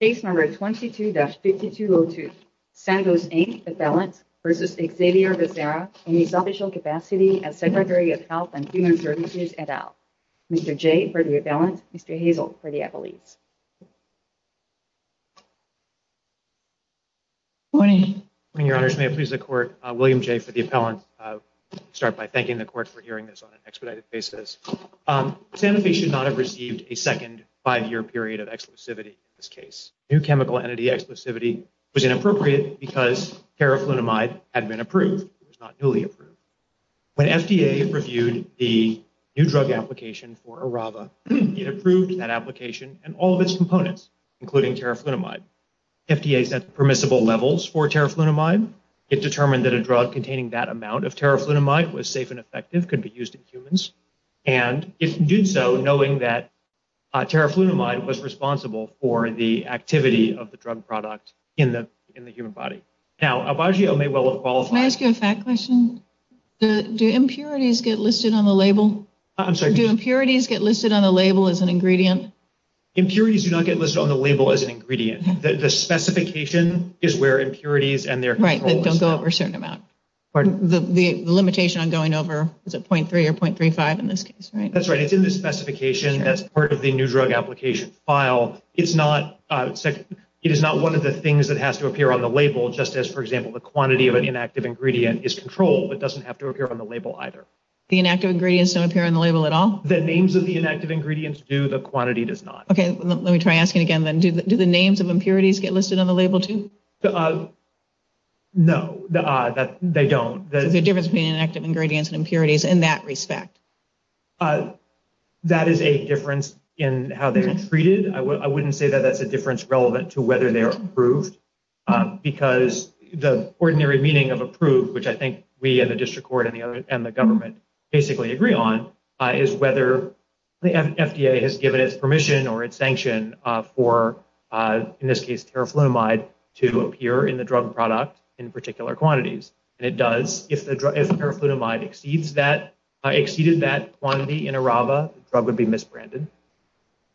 22-5202, Sandoz Inc. vs. Xavier Becerra, in the Official Capacity of the Secretary of Health and Human Services, et al. Mr. Jay, for the appellant. Mr. Hazel, for the appellate. Good morning. Good morning, Your Honors. May it please the Court, William Jay, for the appellant. I'll start by thanking the Court for hearing this on an expedited basis. Sanofi should not have received a second five-year period of exclusivity in this case. New chemical entity exclusivity was inappropriate because terraflutamide had been approved. It was not newly approved. When FDA reviewed the new drug application for Arava, it approved that application and all of its components, including terraflutamide. FDA set permissible levels for terraflutamide. It determined that a drug containing that amount of terraflutamide was safe and effective, could be used in humans. And it did so knowing that terraflutamide was responsible for the activity of the drug product in the human body. Now, a biogeo may well have qualified... Can I ask you a fact question? Do impurities get listed on the label? I'm sorry. Do impurities get listed on the label as an ingredient? Impurities do not get listed on the label as an ingredient. The specification is where impurities and their... Right. They don't go over a certain amount. Pardon? The limitation on going over, is it .3 or .35 in this case, right? That's right. It's in the specification as part of the new drug application file. It is not one of the things that has to appear on the label, just as, for example, the quantity of an inactive ingredient is controlled. It doesn't have to appear on the label either. The inactive ingredients don't appear on the label at all? The names of the inactive ingredients do. The quantity does not. Okay. Let me try asking again then. Do the names of impurities get listed on the label too? No. They don't. The difference between inactive ingredients and impurities in that respect? That is a difference in how they are treated. I wouldn't say that that's a difference relevant to whether they are approved, because the ordinary meaning of approved, which I think we in the district court and the government basically agree on, is whether the FDA has given its permission or its sanction for, in this case, terraflumide to appear in the drug product in particular quantities. And it does. If terraflumide exceeded that quantity in ARAVA, the drug would be misbranded.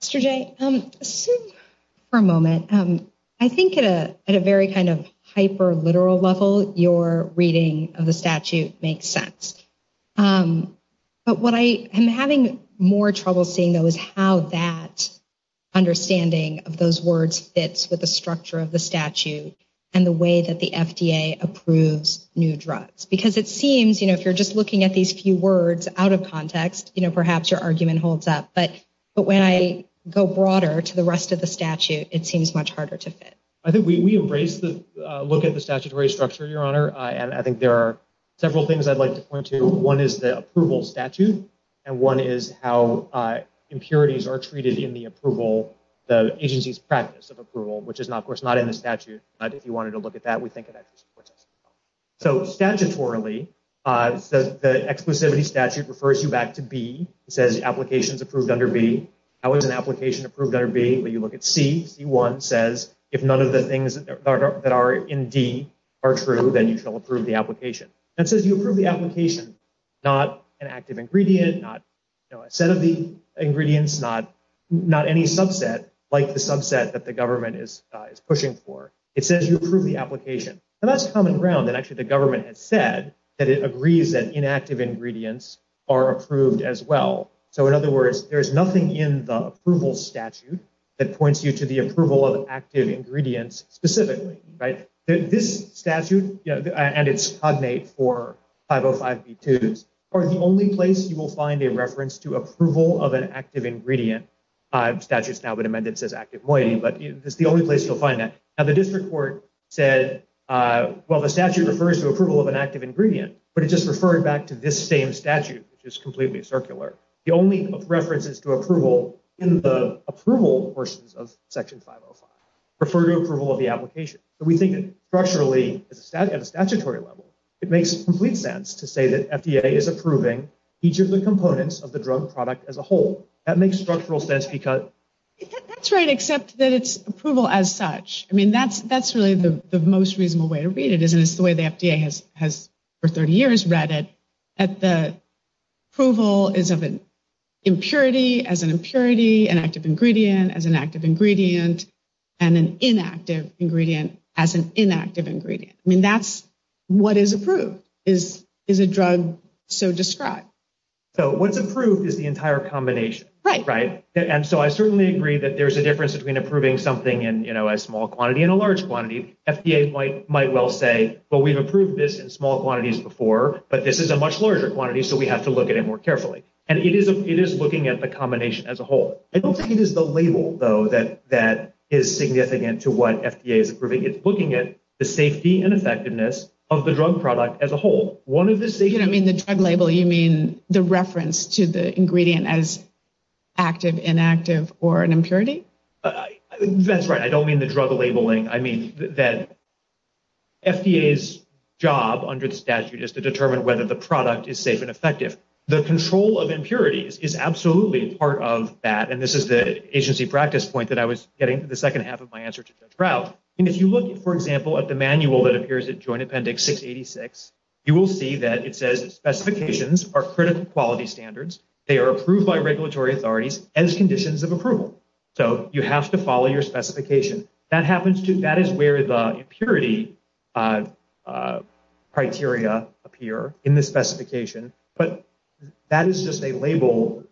Mr. Jay, for a moment, I think at a very kind of hyper-literal level, your reading of the statute makes sense. But what I am having more trouble seeing, though, is how that understanding of those words fits with the structure of the statute and the way that the FDA approves new drugs. Because it seems, you know, if you're just looking at these few words out of context, you know, perhaps your argument holds up. But when I go broader to the rest of the statute, it seems much harder to fit. I think we embrace the look at the statutory structure, Your Honor. And I think there are several things I'd like to point to. One is the approval statute, and one is how impurities are treated in the approval, the agency's practice of approval, which is, of course, not in the statute. But if you wanted to look at that, we think it actually supports that. So, statutorily, the exclusivity statute refers you back to B. It says applications approved under B. How is an application approved under B? When you look at C, C-1 says if none of the things that are in D are true, then you shall approve the application. It says you approve the application, not an active ingredient, not a set of the ingredients, not any subset, like the subset that the government is pushing for. It says you approve the application. And that's common ground. And actually, the government has said that it agrees that inactive ingredients are approved as well. So, in other words, there's nothing in the approval statute that points you to the approval of active ingredients specifically, right? This statute, and it's cognate for 505B2, is the only place you will find a reference to approval of an active ingredient. The statute's now been amended. It says active moiety, but it's the only place you'll find that. And the district court said, well, the statute refers to approval of an active ingredient, but it just referred back to this same statute, which is completely circular. The only references to approval in the approval portions of Section 505 refer to approval of the application. So, we think structurally, at a statutory level, it makes complete sense to say that FDA is approving each of the components of the drug product as a whole. That makes structural sense because- That's right, except that it's approval as such. I mean, that's really the most reasonable way to read it, isn't it? It's the way the FDA has, for 30 years, read it, that the approval is of an impurity as an impurity, an active ingredient as an active ingredient, and an inactive ingredient as an inactive ingredient. I mean, that's what is approved, is a drug so described. So, what's approved is the entire combination. Right. And so, I certainly agree that there's a difference between approving something in a small quantity and a large quantity. FDA might well say, well, we've approved this in small quantities before, but this is a much larger quantity, so we have to look at it more carefully. And it is looking at the combination as a whole. I don't think it is the label, though, that is significant to what FDA is approving. It's looking at the safety and effectiveness of the drug product as a whole. You don't mean the drug label. You mean the reference to the ingredient as active, inactive, or an impurity? That's right. I don't mean the drug labeling. I mean that FDA's job under the statute is to determine whether the product is safe and effective. The control of impurities is absolutely a part of that, and this is the agency practice point that I was getting to the second half of my answer to the crowd. If you look, for example, at the manual that appears at Joint Appendix 686, you will see that it says specifications are critical quality standards. They are approved by regulatory authorities as conditions of approval. So, you have to follow your specification. That is where the impurity criteria appear in the specification, but that is just a label.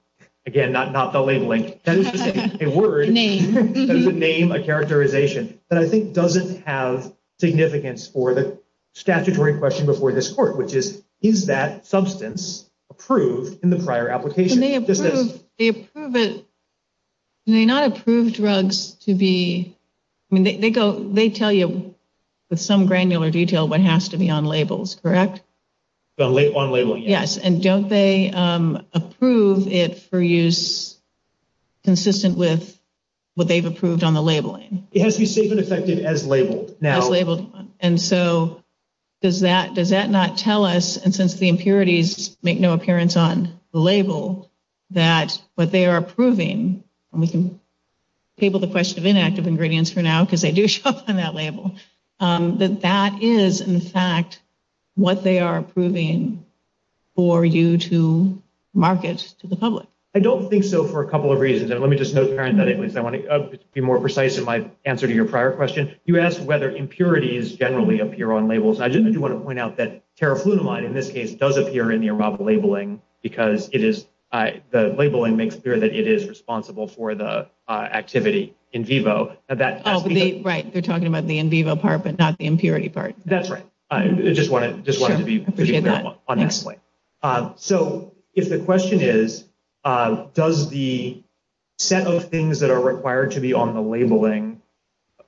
Again, not the labeling. That is just a word. Name. That is a name, a characterization. That, I think, doesn't have significance for the statutory question before this court, which is, is that substance approved in the prior application? They approve it. Do they not approve drugs to be – they tell you with some granular detail what has to be on labels, correct? On labels, yes. Yes, and don't they approve it for use consistent with what they've approved on the labeling? It has to be safe and effective as labeled. As labeled. And so, does that not tell us, and since the impurities make no appearance on the label, that what they are approving – and we can table the question of inactive ingredients for now because they do show up on that label – that that is, in fact, what they are approving for you to market to the public? I don't think so for a couple of reasons, and let me just be more precise in my answer to your prior question. You asked whether impurities generally appear on labels. I do want to point out that terraflutamide, in this case, does appear in the above labeling because it is – the labeling makes clear that it is responsible for the activity in vivo. Oh, right. You're talking about the in vivo part but not the impurity part. That's right. I just wanted to be pretty clear on that point. So, if the question is, does the set of things that are required to be on the labeling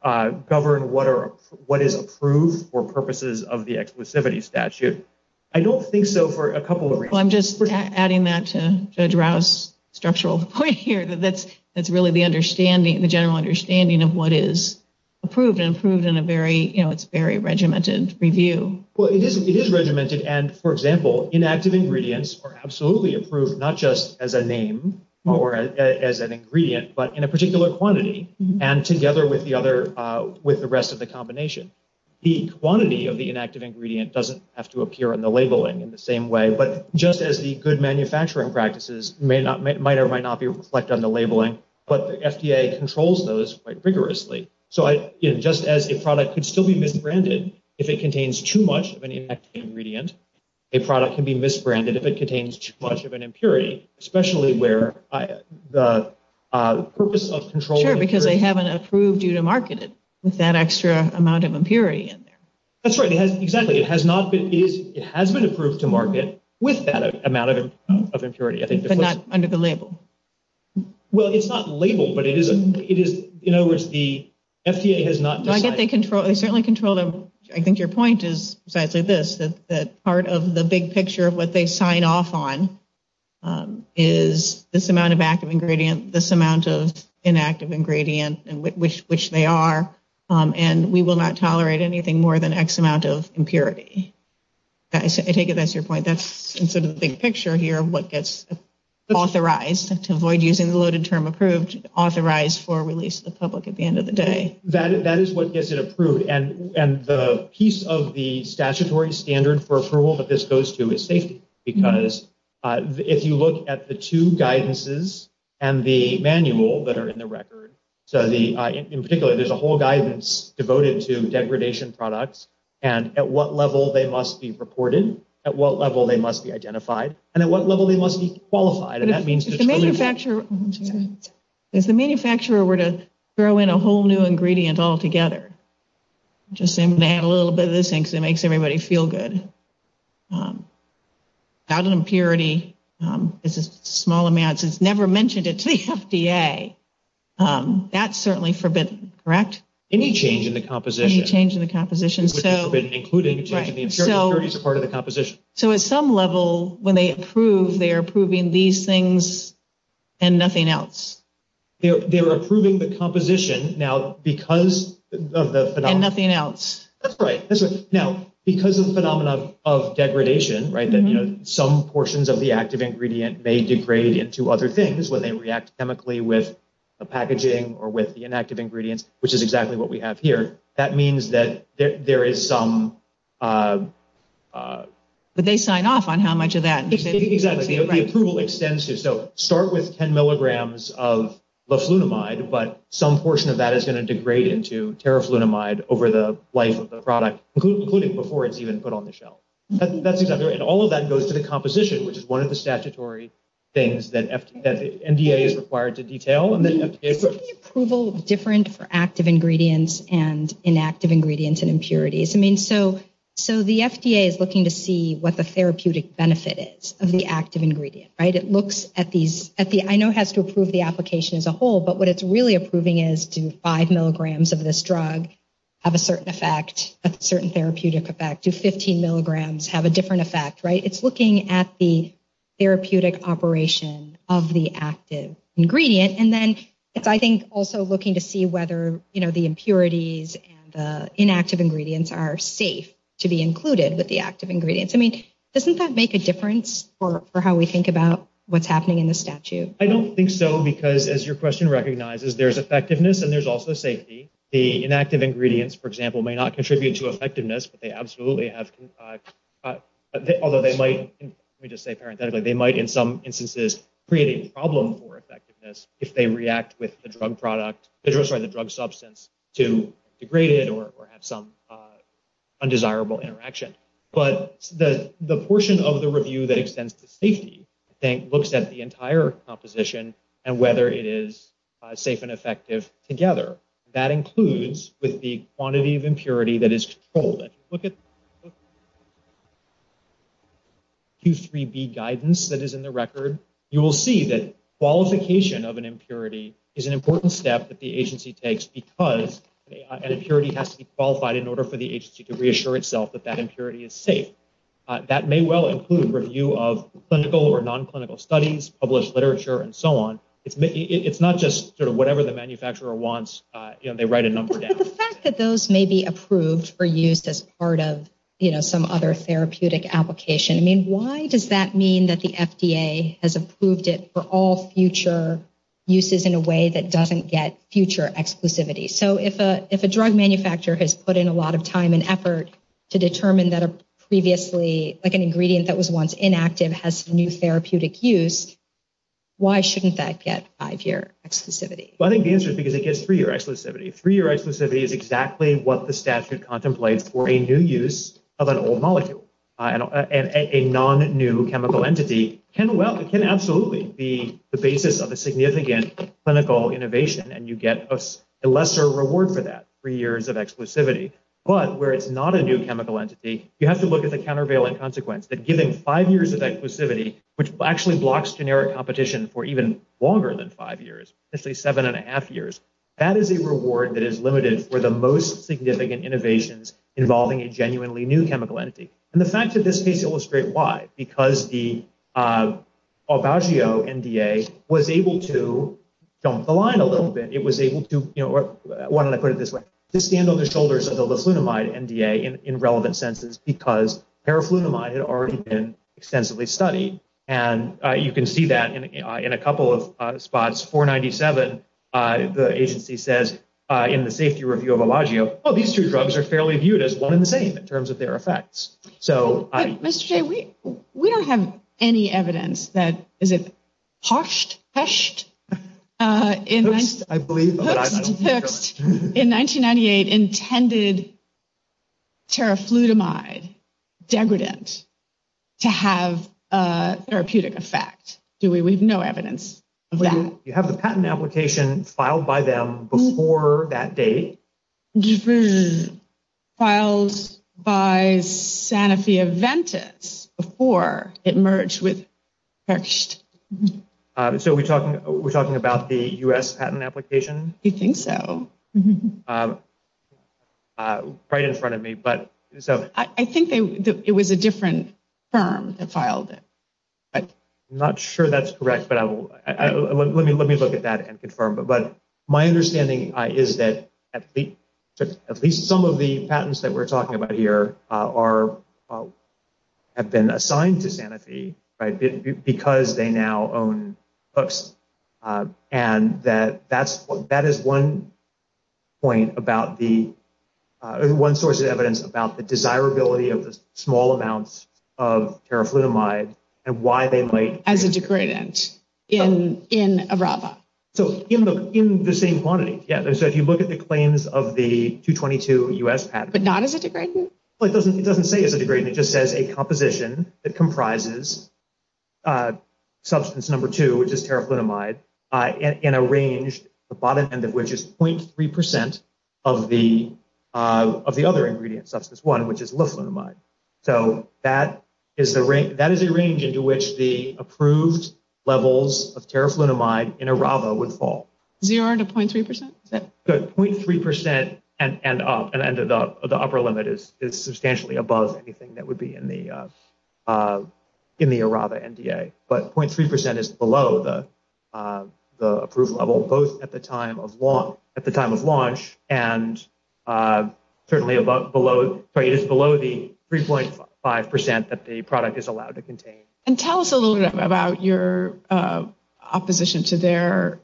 govern what is approved for purposes of the exclusivity statute? I don't think so for a couple of reasons. I'm just adding that to Judge Rouse's structural point here that that's really the understanding – the general understanding of what is approved and approved in a very – it's a very regimented review. Well, it is regimented, and, for example, inactive ingredients are absolutely approved not just as a name or as an ingredient but in a particular quantity and together with the rest of the combination. The quantity of the inactive ingredient doesn't have to appear in the labeling in the same way, but just as the good manufacturing practices might or might not reflect on the labeling, but the FDA controls those quite rigorously. So, just as a product can still be misbranded if it contains too much of an inactive ingredient, a product can be misbranded if it contains too much of an impurity, especially where the purpose of controlling – Sure, because they haven't approved you to market it with that extra amount of impurity in there. That's right, exactly. It has not been – it has been approved to market with that amount of impurity. But not under the label. Well, it's not labeled, but it is – in other words, the FDA has not – I think they control – they certainly control the – I think your point is precisely this, that part of the big picture of what they sign off on is this amount of active ingredient, this amount of inactive ingredient, which they are, and we will not tolerate anything more than X amount of impurity. I take it that's your point. That's sort of the big picture here of what gets authorized, to avoid using the loaded term approved, authorized for release to the public at the end of the day. That is what gets it approved. And the piece of the statutory standard for approval that this goes to is safety, because if you look at the two guidances and the manual that are in the record, so the – in particular, there's a whole guidance devoted to degradation products and at what level they must be reported, at what level they must be identified, and at what level they must be qualified. And that means – If the manufacturer were to throw in a whole new ingredient altogether, I'm just going to add a little bit of this in because it makes everybody feel good. Agile impurity is a small amount. It's never mentioned. It's the FDA. That's certainly forbidden, correct? Any change in the composition. Any change in the composition. Including the impurity as part of the composition. So at some level, when they approve, they're approving these things and nothing else. They're approving the composition. And nothing else. That's right. Now, because of the phenomenon of degradation, right, that some portions of the active ingredient may degrade into other things when they react chemically with the packaging or with the inactive ingredient, which is exactly what we have here, that means that there is some – But they sign off on how much of that. Exactly. The approval extends to – How much of that is going to degrade into terraflunamide over the life of the product, including before it's even put on the shelf. That's exactly right. And all of that goes to the composition, which is one of the statutory things that NDA is required to detail. Isn't the approval different for active ingredients and inactive ingredients and impurities? I mean, so the FDA is looking to see what the therapeutic benefit is of the active ingredient, right? It looks at these – I know it has to approve the application as a whole, but what it's really approving is do five milligrams of this drug have a certain effect, a certain therapeutic effect? Do 15 milligrams have a different effect, right? It's looking at the therapeutic operation of the active ingredient. And then it's, I think, also looking to see whether, you know, the impurities and the inactive ingredients are safe to be included with the active ingredients. I mean, doesn't that make a difference for how we think about what's happening in the statute? I don't think so because, as your question recognizes, there's effectiveness and there's also safety. The inactive ingredients, for example, may not contribute to effectiveness, but they absolutely have – although they might, let me just say parenthetically, they might in some instances create a problem for effectiveness if they react with the drug product – I'm sorry, the drug substance to degrade it or have some undesirable interaction. But the portion of the review that extends to safety, I think, looks at the entire composition and whether it is safe and effective together. That includes with the quantity of impurity that is controlled. If you look at Q3B guidance that is in the record, you will see that qualification of an impurity is an important step that the agency takes because an impurity has to be qualified in order for the agency to reassure itself that that impurity is safe. That may well include review of clinical or non-clinical studies, published literature, and so on. It's not just whatever the manufacturer wants, they write a number down. But the fact that those may be approved for use as part of some other therapeutic application, I mean, why does that mean that the FDA has approved it for all future uses in a way that doesn't get future exclusivity? So if a drug manufacturer has put in a lot of time and effort to determine that a previously, like an ingredient that was once inactive has new therapeutic use, why shouldn't that get five-year exclusivity? I think the answer is because it gets three-year exclusivity. Three-year exclusivity is exactly what the statute contemplates for a new use of an old molecule. A non-new chemical entity can absolutely be the basis of a significant clinical innovation and you get a lesser reward for that, three years of exclusivity. But where it's not a new chemical entity, you have to look at the countervailing consequence that giving five years of exclusivity, which actually blocks generic competition for even longer than five years, let's say seven and a half years, that is a reward that is limited for the most significant innovations involving a genuinely new chemical entity. And the facts of this case illustrate why. Because the Olvagio NDA was able to jump the line a little bit. It was able to, you know, I wanted to put it this way, to stand on the shoulders of the Liflunomide NDA in relevant senses because paraflunomide had already been extensively studied. And you can see that in a couple of spots. 497, the agency says in the safety review of Olvagio, oh, these two drugs are fairly viewed as one and the same in terms of their effects. Mr. Jay, we don't have any evidence that, is it, Hoest in 1998 intended paraflunomide degradant to have a therapeutic effect. We have no evidence of that. Do you have the patent application filed by them before that date? It was filed by Sanofi Aventis before it merged with Hoest. So we're talking about the U.S. patent application? I think so. Right in front of me. I think it was a different firm that filed it. I'm not sure that's correct, but let me look at that and confirm. But my understanding is that at least some of the patents that we're talking about here have been assigned to Sanofi because they now own Hoest. And that is one source of evidence about the desirability of the small amounts of paraflunomide and why they might- As a degradant in Arava. So in the same quantity. Yeah, so if you look at the claims of the 222 U.S. patent- But not as a degradant? It doesn't say as a degradant. It just says a composition that comprises substance number two, which is paraflunomide, in a range, the bottom end of which is 0.3% of the other ingredient, substance one, which is leflunomide. So that is a range into which the approved levels of paraflunomide in Arava would fall. 0.3%? 0.3% and up. And the upper limit is substantially above anything that would be in the Arava NDA. But 0.3% is below the approved level, both at the time of launch, and certainly is below the 3.5% that the product is allowed to contain. And tell us a little bit about your opposition to their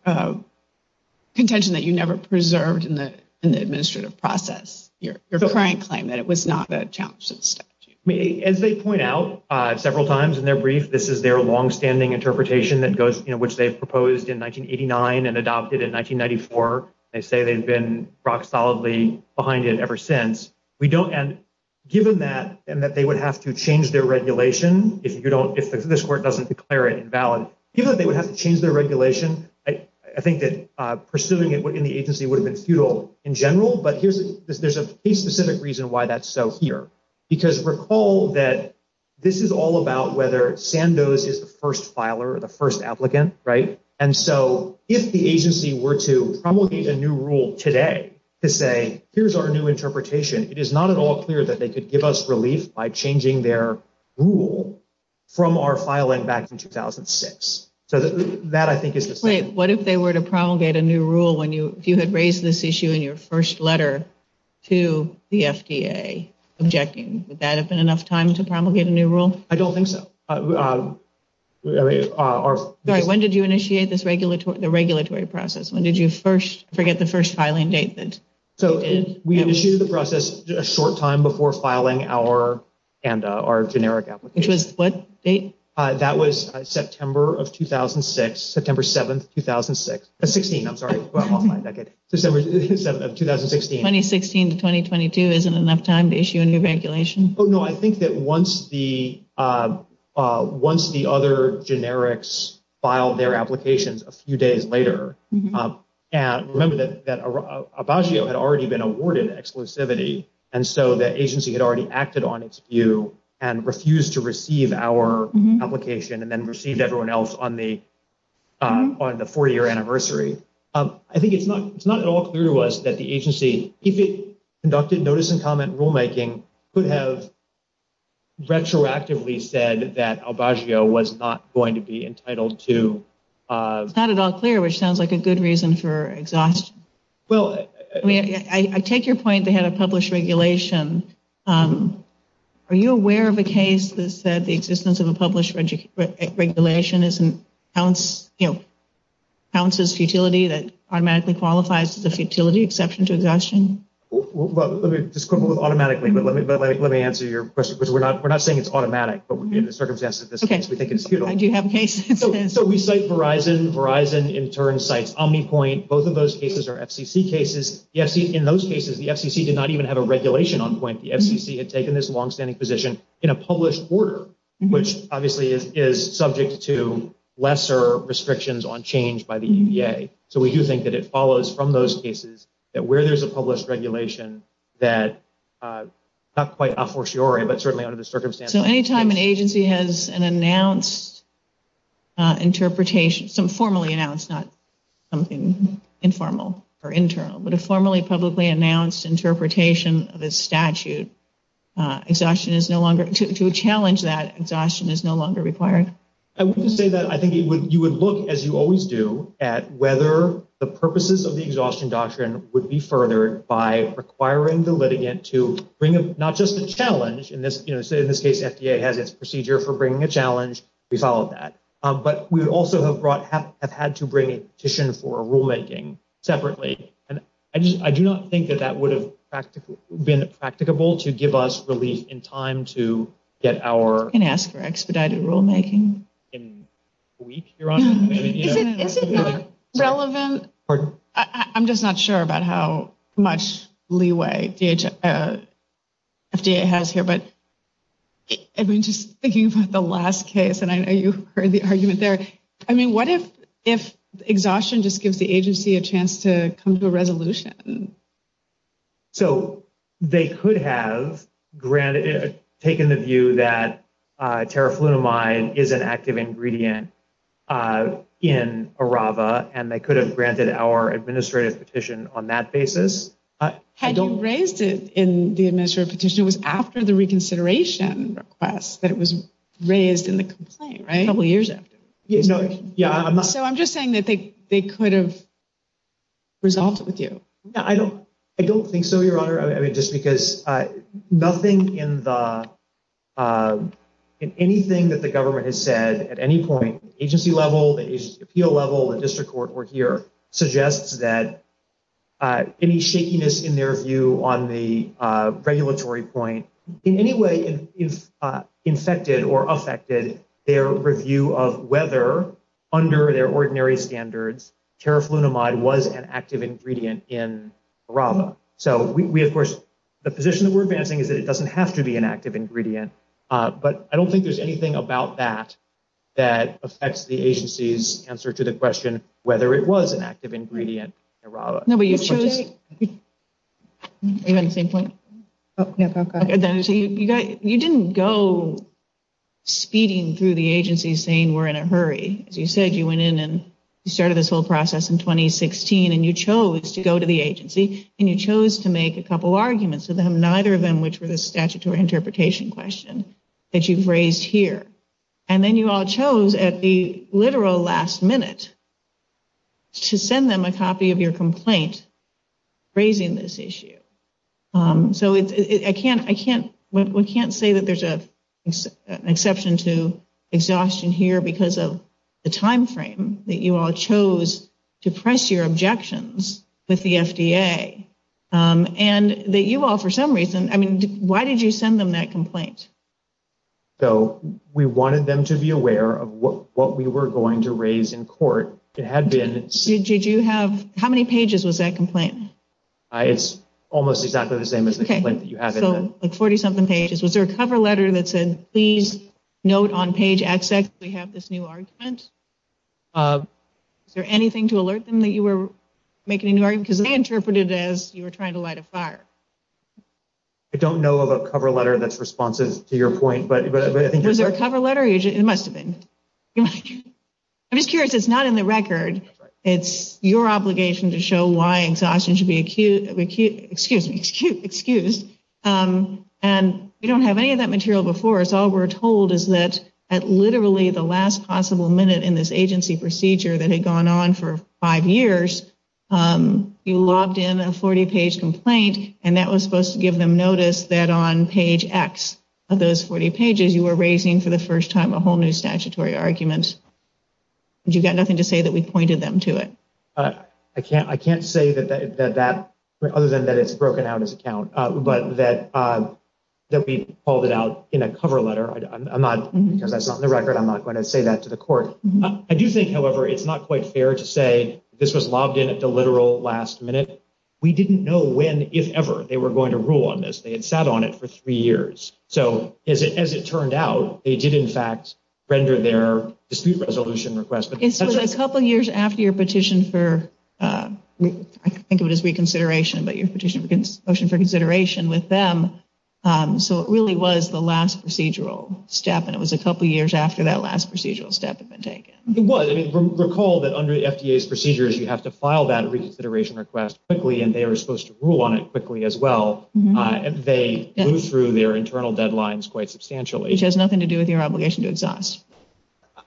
contention that you never preserved in the administrative process, your current claim that it was not a challenge to the statute. As they point out several times in their brief, this is their longstanding interpretation in which they proposed in 1989 and adopted in 1994. They say they've been rock-solidly behind it ever since. Given that, and that they would have to change their regulation, if this court doesn't declare it invalid, given that they would have to change their regulation, I think that pursuing it within the agency would have been futile in general. But there's a specific reason why that's so here. Because recall that this is all about whether Sandoz is the first filer or the first applicant. And so if the agency were to promulgate a new rule today to say, here's our new interpretation, it is not at all clear that they could give us relief by changing their rule from our filing back in 2006. So that I think is just- Wait, what if they were to promulgate a new rule when you had raised this issue in your first letter to the FDA, objecting? Would that have been enough time to promulgate a new rule? I don't think so. Sorry, when did you initiate the regulatory process? When did you first forget the first filing date? So we initiated the process a short time before filing our generic application. Which was what date? That was September of 2006, September 7, 2006. 16, I'm sorry. 2016 to 2022 isn't enough time to issue a new regulation? Oh, no, I think that once the other generics filed their applications a few days later, remember that Abbaggio had already been awarded exclusivity. And so the agency had already acted on its view and refused to receive our application and then received everyone else on the 40-year anniversary. I think it's not at all clear to us that the agency, if it conducted notice and comment rulemaking, could have retroactively said that Abbaggio was not going to be entitled to- It's not at all clear, which sounds like a good reason for exhaustion. Well- I take your point they had a published regulation. Are you aware of a case that said the existence of a published regulation counts as futility, that automatically qualifies as a futility exception to exhaustion? Let me just quickly, automatically, but let me answer your question. We're not saying it's automatic, but in the circumstance of this case, we think it's futile. So we cite Verizon. Verizon, in turn, cites OmniPoint. Both of those cases are FCC cases. In those cases, the FCC did not even have a regulation on point. The FCC had taken this longstanding position in a published order, which obviously is subject to lesser restrictions on change by the EPA. So we do think that it follows from those cases that where there's a published regulation, that not quite a fortiori, but certainly under the circumstances- So any time an agency has an announced interpretation, some formally announced, not something informal or internal, but a formally publicly announced interpretation of a statute, exhaustion is no longer- to challenge that, exhaustion is no longer required? I would say that I think you would look, as you always do, at whether the purposes of the exhaustion doctrine would be furthered by requiring the litigant to bring not just a challenge, in this case the FDA had this procedure for bringing a challenge. We followed that. But we also have had to bring a petition for rulemaking separately. And I do not think that that would have been practicable to give us relief in time to get our- And ask for expedited rulemaking. In a week, Your Honor? Is it relevant? I'm just not sure about how much leeway the FDA has here, but I've been just thinking about the last case, and I know you heard the argument there. I mean, what if exhaustion just gives the agency a chance to come to a resolution? So they could have taken the view that terraflutamine is an active ingredient in ARAVA, and they could have granted our administrative petition on that basis. Had you raised it in the administrative petition, it was after the reconsideration request that it was raised in the complaint, right? A couple years ago. Yeah, I'm not- So I'm just saying that they could have resolved it with you. I don't think so, Your Honor. I mean, just because nothing in the- in anything that the government has said at any point, agency level, appeal level, the district court were here, suggests that any shakiness in their view on the regulatory point in any way infected or affected their review of whether, under their ordinary standards, terraflutamide was an active ingredient in ARAVA. So we, of course, the position that we're advancing is that it doesn't have to be an active ingredient, but I don't think there's anything about that that affects the agency's answer to the question whether it was an active ingredient in ARAVA. No, but you chose- Are you on the same point? You didn't go speeding through the agency saying we're in a hurry. As you said, you went in and you started this whole process in 2016, and you chose to go to the agency, and you chose to make a couple arguments, and neither of them which were the statutory interpretation question that you've raised here. And then you all chose at the literal last minute to send them a copy of your complaint raising this issue. So I can't say that there's an exception to exhaustion here because of the time frame that you all chose to press your objections with the FDA, and that you all for some reason- I mean, why did you send them that complaint? So we wanted them to be aware of what we were going to raise in court. How many pages was that complaint? It's almost exactly the same as the complaint that you have in there. So it's 40-something pages. Was there a cover letter that said, please note on page XX we have this new argument? Was there anything to alert them that you were making an argument? Because they interpreted it as you were trying to light a fire. I don't know of a cover letter that's responsive to your point, but I think- Was there a cover letter? It must have been. I'm just curious. It's not in the record. It's your obligation to show why exhaustion should be excused. And we don't have any of that material before us. All we're told is that at literally the last possible minute in this agency procedure that had gone on for five years, you logged in a 40-page complaint, and that was supposed to give them notice that on page X of those 40 pages you were raising for the first time a whole new statutory argument. Did you get nothing to say that we pointed them to it? I can't say that, other than that it's broken out as a count, but that we called it out in a cover letter. Because that's not in the record, I'm not going to say that to the court. I do think, however, it's not quite fair to say this was logged in at the literal last minute. We didn't know when, if ever, they were going to rule on this. They had sat on it for three years. So, as it turned out, they did, in fact, render their dispute resolution request. It was a couple years after your petition for, I think of it as reconsideration, but your petition for consideration with them. So it really was the last procedural step, and it was a couple years after that last procedural step had been taken. It was. Recall that under FDA's procedures you have to file that reconsideration request quickly, and they were supposed to rule on it quickly as well. They went through their internal deadlines quite substantially. Which has nothing to do with your obligation to exhaust.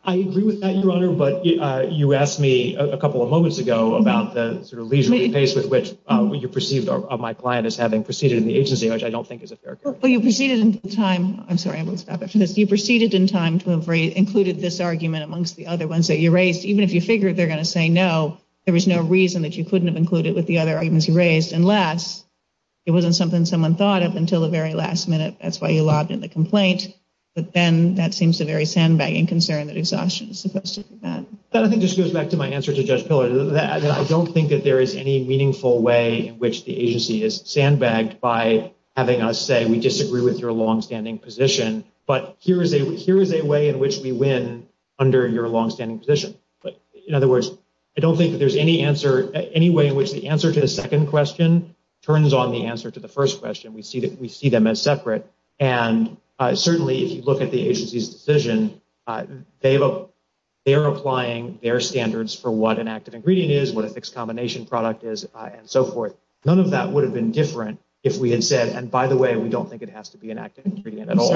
I agree with that, Your Honor, but you asked me a couple of moments ago about the sort of reason for the case with which you perceived my client as having proceeded in the agency, which I don't think is a fair case. Well, you proceeded in time. I'm sorry, I'm going to stop it. You proceeded in time to have included this argument amongst the other ones that you raised. Even if you figured they're going to say no, there was no reason that you couldn't have included it with the other arguments you raised, unless it wasn't something someone thought of until the very last minute. That's why you lobbed in the complaint. But then that seems a very sandbagging concern that exhaustion is supposed to prevent. Let me just go back to my answer to Judge Pillard. I don't think that there is any meaningful way in which the agency is sandbagged by having us say, we disagree with your longstanding position, but here is a way in which we win under your longstanding position. In other words, I don't think that there's any answer, any way in which the answer to the second question turns on the answer to the first question. We see them as separate. And certainly, if you look at the agency's decision, they're applying their standards for what an active ingredient is, what a fixed combination product is, and so forth. None of that would have been different if we had said, and by the way, we don't think it has to be an active ingredient at all.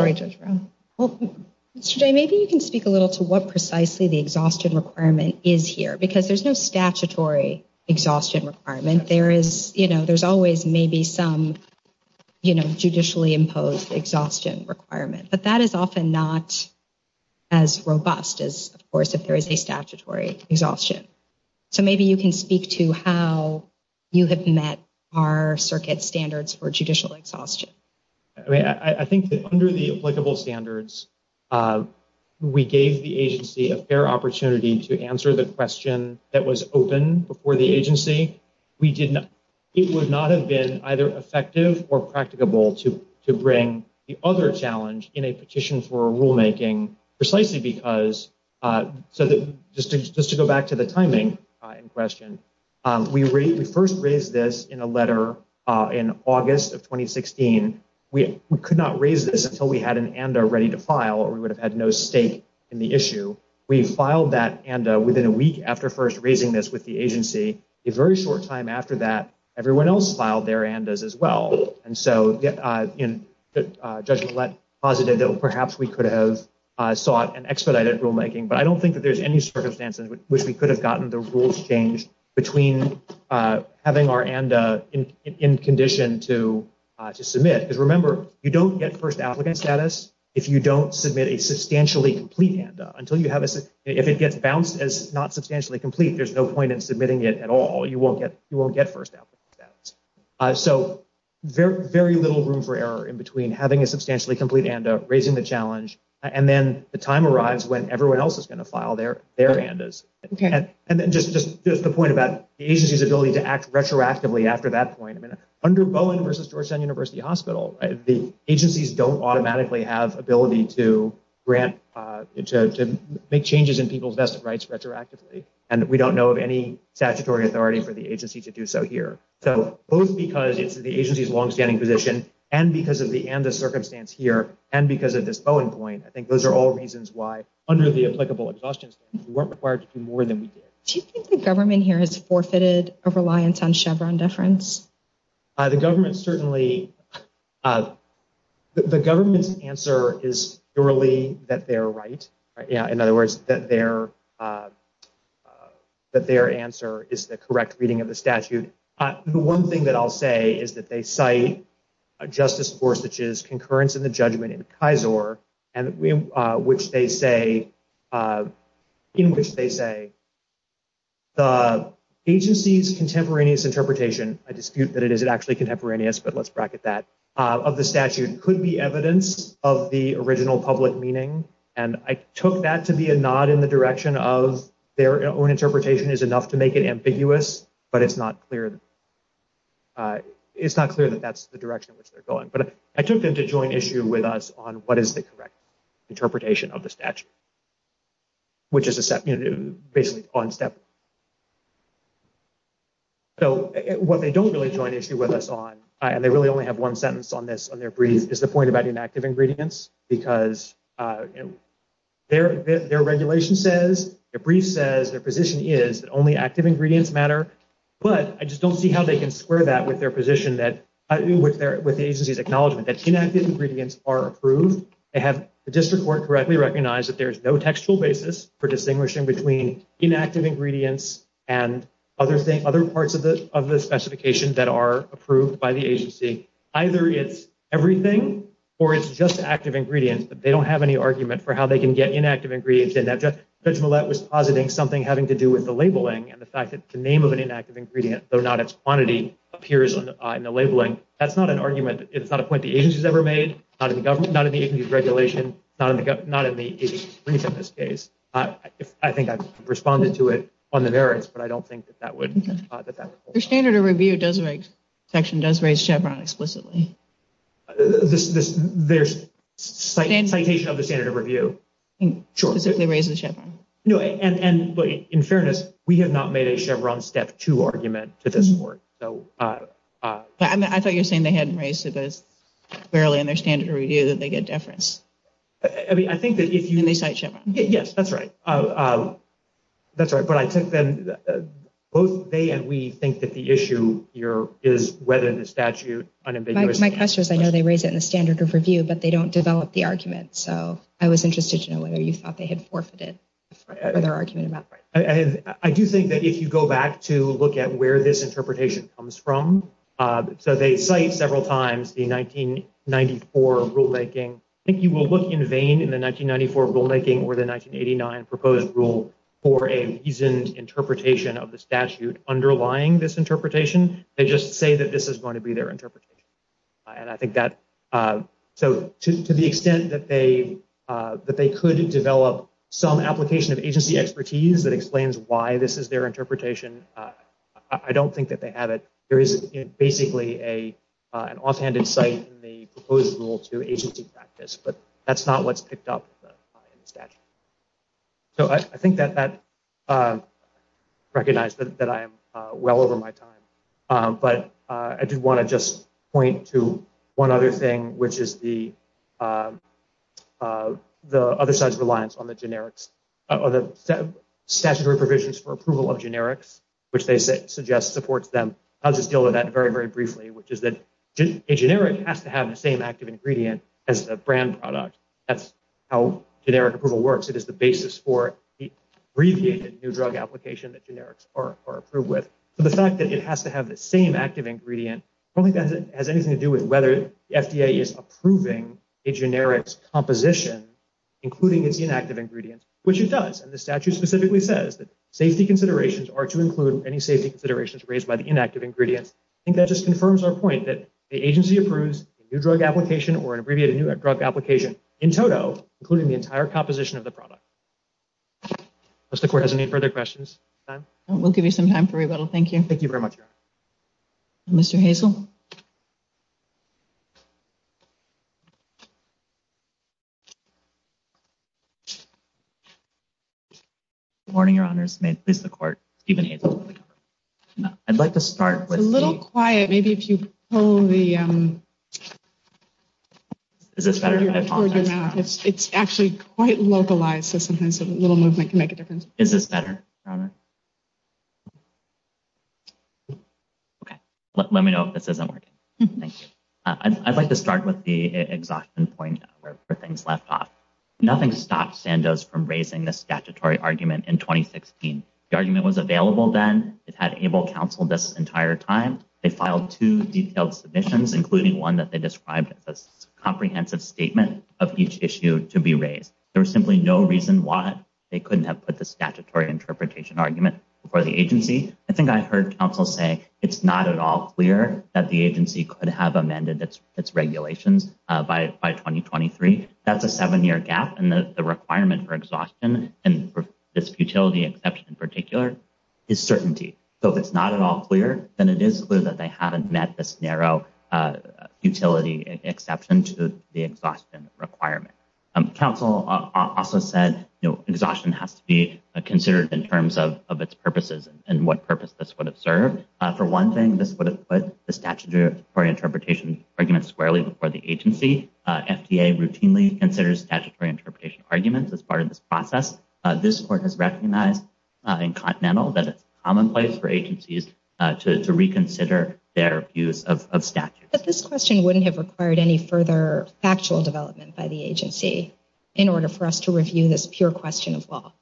Maybe you can speak a little to what precisely the exhaustion requirement is here, because there's no statutory exhaustion requirement. There's always maybe some judicially imposed exhaustion requirement, but that is often not as robust as, of course, if there is a statutory exhaustion. So maybe you can speak to how you have met our circuit standards for judicial exhaustion. I think that under the applicable standards, we gave the agency a fair opportunity to answer the question that was open before the agency. It would not have been either effective or practicable to bring the other challenge in a petition for rulemaking, precisely because, just to go back to the timing in question, we first raised this in a letter in August of 2016. We could not raise this until we had an ANDA ready to file, or we would have had no stake in the issue. We filed that ANDA within a week after first raising this with the agency. A very short time after that, everyone else filed their ANDAs as well, and so Judge Collette posited that perhaps we could have sought an expedited rulemaking, but I don't think that there's any circumstances in which we could have gotten the rules changed between having our ANDA in condition to submit. Remember, you don't get first applicant status if you don't submit a substantially complete ANDA. If it gets bounced as not substantially complete, there's no point in submitting it at all. You won't get first applicant status. So very little room for error in between having a substantially complete ANDA, raising the challenge, and then the time arrives when everyone else is going to file their ANDAs. Just the point about the agency's ability to act retroactively after that point, under Bowen versus Georgetown University Hospital, the agencies don't automatically have ability to make changes in people's vested rights retroactively, and we don't know of any statutory authority for the agency to do so here. So both because it's the agency's longstanding position and because of the ANDA circumstance here and because of this Bowen point, I think those are all reasons why, under the applicable exhaustion, we weren't required to do more than we did. Do you think the government here has forfeited a reliance on Chevron deference? The government's answer is surely that they're right. In other words, that their answer is the correct reading of the statute. The one thing that I'll say is that they cite Justice Gorsuch's concurrence in the judgment in the Kaiser, in which they say the agency's contemporaneous interpretation, a dispute that it is actually contemporaneous, but let's bracket that, of the statute could be evidence of the original public meaning, and I took that to be a nod in the direction of their own interpretation is enough to make it ambiguous, but it's not clear that that's the direction in which they're going. But I took them to join issue with us on what is the correct interpretation of the statute, which is basically one step. So what they don't really join issue with us on, and they really only have one sentence on this on their brief, is the point about inactive ingredients because their regulation says, their position is that only active ingredients matter, but I just don't see how they can square that with their position with the agency's acknowledgement that inactive ingredients are approved. They have the district court correctly recognize that there's no textual basis for distinguishing between inactive ingredients and other parts of the specification that are approved by the agency. Either it's everything or it's just active ingredients, but they don't have any argument for how they can get inactive ingredients in that. Judge Millett was positing something having to do with the labeling and the fact that the name of an inactive ingredient, though not its quantity, appears in the labeling. That's not an argument. It's not a point the agency's ever made, not in the agency's regulation, not in the agency's brief in this case. I think I've responded to it on the merits, but I don't think that that would. The standard of review section does raise Chevron explicitly. There's a citation of the standard of review. They raise the Chevron. In fairness, we have not made a Chevron Step 2 argument to this point. I thought you were saying they hadn't raised it clearly in their standard of review that they get a deference. I mean, I think that if you. They cite Chevron. Yes, that's right. That's right. But I think that both they and we think that the issue here is whether the statute. My question is, I know they raise it in the standard of review, but they don't develop the argument. So I was interested to know whether you thought they had forfeited their argument about. I do think that if you go back to look at where this interpretation comes from. So they cite several times the 1994 rulemaking. I think you will look in vain in the 1994 rulemaking or the 1989 proposed rule for a reasoned interpretation of the statute underlying this interpretation. They just say that this is going to be their interpretation. And I think that to the extent that they could develop some application of agency expertise that explains why this is their interpretation. I don't think that they have it. There is basically an offhanded site in the proposed rule to agency practice. But that's not what's picked up in the statute. So I think that that recognizes that I am well over my time. But I did want to just point to one other thing, which is the other side's reliance on the statutory provisions for approval of generics, which they suggest supports them. I'll just deal with that very, very briefly, which is that a generic has to have the same active ingredient as a brand product. That's how generic approval works. It is the basis for the abbreviated new drug application that generics are approved with. But the fact that it has to have the same active ingredient, I don't think that has anything to do with whether the FDA is approving a generic's composition, including its inactive ingredients, which it does. And the statute specifically says that safety considerations are to include any safety considerations raised by the inactive ingredients. I think that just confirms our point that the agency approves a new drug application or an abbreviated new drug application in total, including the entire composition of the product. Does the court have any further questions? We'll give you some time for rebuttal. Thank you. Thank you very much, Your Honor. Mr. Hazel? Good morning, Your Honor. May it please the court, Stephen Hazel. I'd like to start with... A little quiet. Maybe if you hold the... Is this better? It's actually quite localized, so sometimes a little movement can make a difference. Is this better, Robert? Okay. Let me know if this isn't working. Thanks. I'd like to start with the exhaustion point where things left off. Nothing stopped Sandoz from raising the statutory argument in 2016. The argument was available then. It had able counsel this entire time. They filed two detailed submissions, including one that they described as a comprehensive statement of each issue to be raised. There was simply no reason why they couldn't have put the statutory interpretation argument before the agency. I think I heard counsel say it's not at all clear that the agency could have amended its regulations by 2023. That's a seven-year gap, and the requirement for exhaustion and this futility exception in particular is certainty. So if it's not at all clear, then it is clear that they haven't met this narrow futility exception to the exhaustion requirement. Counsel also said exhaustion has to be considered in terms of its purposes and what purpose this would have served. For one thing, this would have put the statutory interpretation argument squarely before the agency. FDA routinely considers statutory interpretation arguments as part of this process. This court has recognized in Continental that it's commonplace for agencies to reconsider their use of statute. But this question wouldn't have required any further factual development by the agency in order for us to review this pure question of law.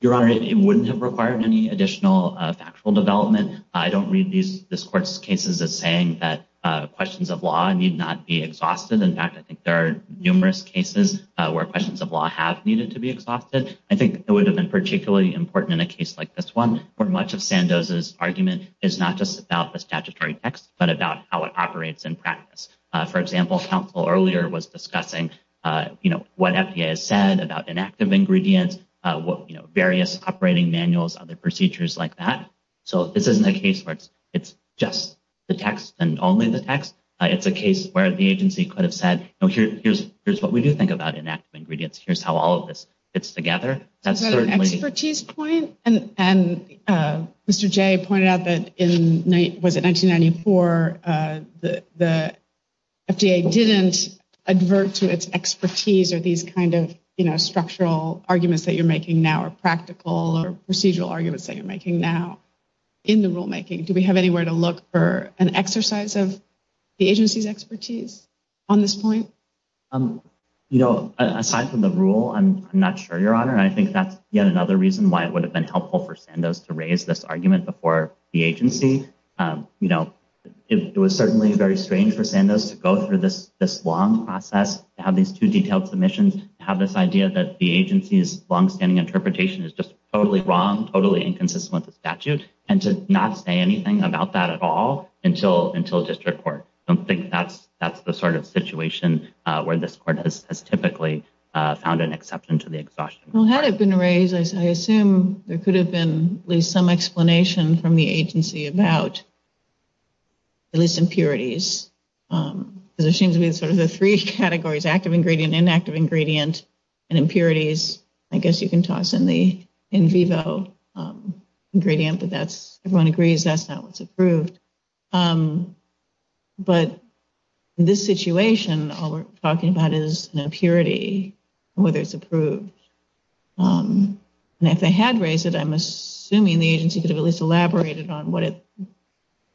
Your Honor, it wouldn't have required any additional factual development. I don't read this court's cases as saying that questions of law need not be exhausted. In fact, I think there are numerous cases where questions of law have needed to be exhausted. I think it would have been particularly important in a case like this one where much of Sandoz's argument is not just about the statutory text, but about how it operates in practice. For example, counsel earlier was discussing what FDA has said about inactive ingredients, various operating manuals, other procedures like that. So this isn't a case where it's just the text and only the text. It's a case where the agency could have said, here's what we do think about inactive ingredients. Here's how all of this fits together. An expertise point? And Mr. Jay pointed out that in 1994, the FDA didn't advert to its expertise or these kind of structural arguments that you're making now are practical or procedural arguments that you're making now in the rulemaking. Do we have any way to look for an exercise of the agency's expertise on this point? You know, aside from the rule, I'm not sure, Your Honor, and I think that's yet another reason why it would have been helpful for Sandoz to raise this argument before the agency. You know, it was certainly very strange for Sandoz to go through this long process, to have these two detailed submissions, to have this idea that the agency's longstanding interpretation is just totally wrong, totally inconsistent with statute, and to not say anything about that at all until district court. I don't think that's the sort of situation where this court has typically found an exception to the exhaustion. Well, had it been raised, I assume there could have been at least some explanation from the agency about these impurities. There seems to be sort of the three categories, active ingredient, inactive ingredient, and impurities. I guess you can toss in the in vivo ingredient, but everyone agrees that's not what's approved. But in this situation, all we're talking about is an impurity and whether it's approved. And if they had raised it, I'm assuming the agency could have at least elaborated on what it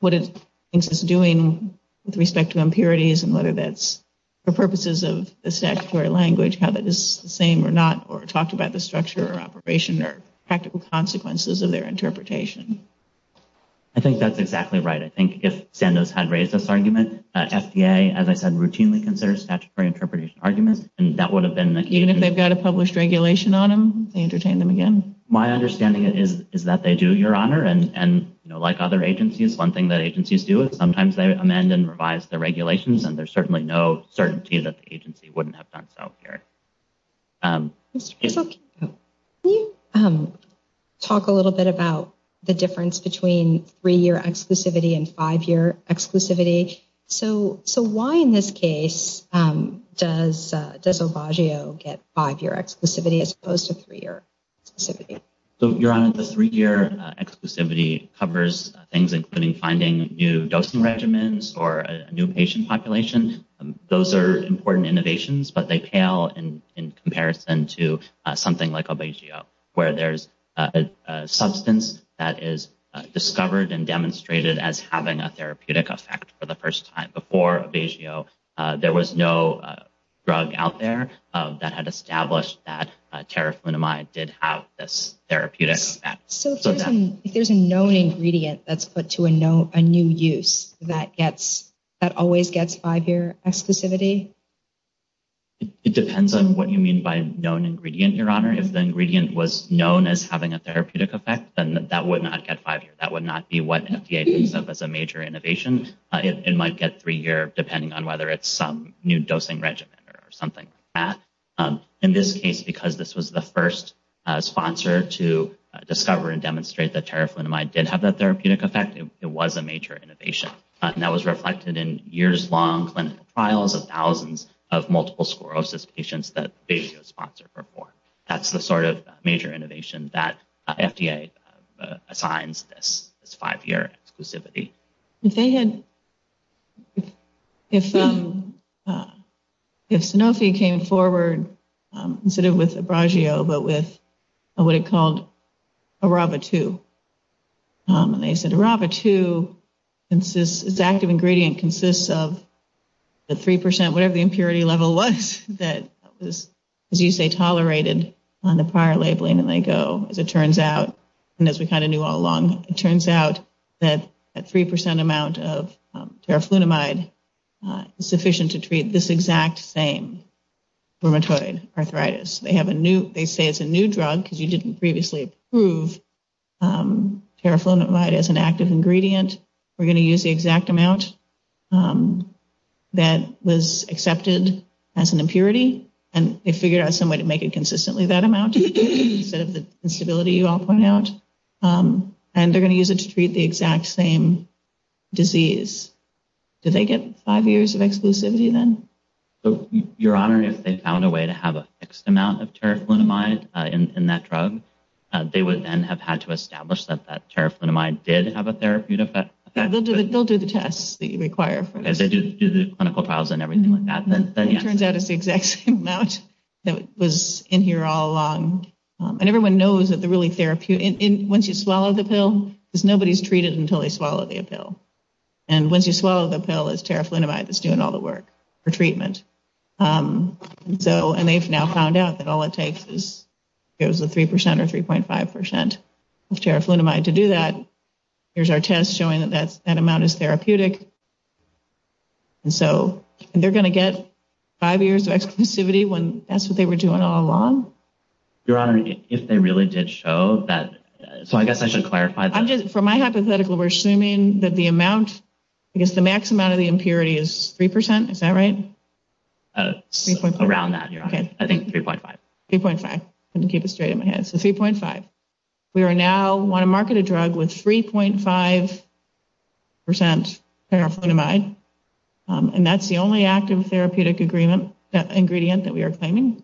thinks it's doing with respect to impurities and whether that's for purposes of the statutory language, whether it's the same or not, or talked about the structure or operation or practical consequences of their interpretation. I think that's exactly right. I think if Sandoz had raised this argument, FDA, as I said, routinely considers statutory interpretation arguments, and that would have been the case. Even if they've got a published regulation on them, they entertain them again. My understanding is that they do, Your Honor. And like other agencies, one thing that agencies do is sometimes they amend and revise the regulations, and there's certainly no certainty that the agency wouldn't have done so here. Excuse me. Can you talk a little bit about the difference between three-year exclusivity and five-year exclusivity? So why in this case does Obagio get five-year exclusivity as opposed to three-year exclusivity? So, Your Honor, the three-year exclusivity covers things including finding new dosing regimens or new patient populations. Those are important innovations, but they pale in comparison to something like Obagio, where there's a substance that is discovered and demonstrated as having a therapeutic effect for the first time. Before Obagio, there was no drug out there that had established that terraflunomide did have this therapeutic effect. So if there's a known ingredient that's put to a new use, that always gets five-year exclusivity? It depends on what you mean by known ingredient, Your Honor. If the ingredient was known as having a therapeutic effect, then that would not get five years. That would not be what FDA thinks of as a major innovation. It might get three years depending on whether it's some new dosing regimen or something like that. In this case, because this was the first sponsor to discover and demonstrate that terraflunomide did have that therapeutic effect, it was a major innovation. And that was reflected in years-long clinical trials of thousands of multiple sclerosis patients that they could sponsor for four. That's the sort of major innovation that FDA assigns this five-year exclusivity. If Sanofi came forward, instead of with Obagio, but with what it called Araba-2, they said Araba-2's active ingredient consists of the three percent, whatever the impurity level was, that was, as you say, tolerated on the prior labeling. And I go, as it turns out, and as we kind of knew all along, it turns out that a three percent amount of terraflunomide is sufficient to treat this exact same rheumatoid arthritis. They say it's a new drug because you didn't previously approve terraflunomide as an active ingredient. We're going to use the exact amount that was accepted as an impurity, and they figured out some way to make it consistently that amount instead of the instability you all point out. And they're going to use it to treat the exact same disease. Did they get five years of exclusivity then? Your Honor, if they found a way to have a fixed amount of terraflunomide in that drug, they would then have had to establish that that terraflunomide did have a therapeutic effect. They'll do the tests that you require. Because they just do the clinical trials and everything like that. It turns out it's the exact same amount that was in here all along. And everyone knows that once you swallow the pill, nobody's treated until they swallow the pill. And once you swallow the pill, it's terraflunomide that's doing all the work for treatment. And they've now found out that all it takes is three percent or 3.5 percent of terraflunomide to do that. Here's our test showing that that amount is therapeutic. And so they're going to get five years of exclusivity when that's what they were doing all along? Your Honor, if they really did show that, so I guess I should clarify that. From my hypothetical, we're assuming that the amount, I guess the maximum amount of the impurity is three percent. Is that right? Around that, Your Honor. I think it's 3.5. 3.5. Let me keep it straight in my head. So 3.5. We are now on a marketed drug with 3.5 percent terraflunomide. And that's the only active therapeutic ingredient that we are claiming.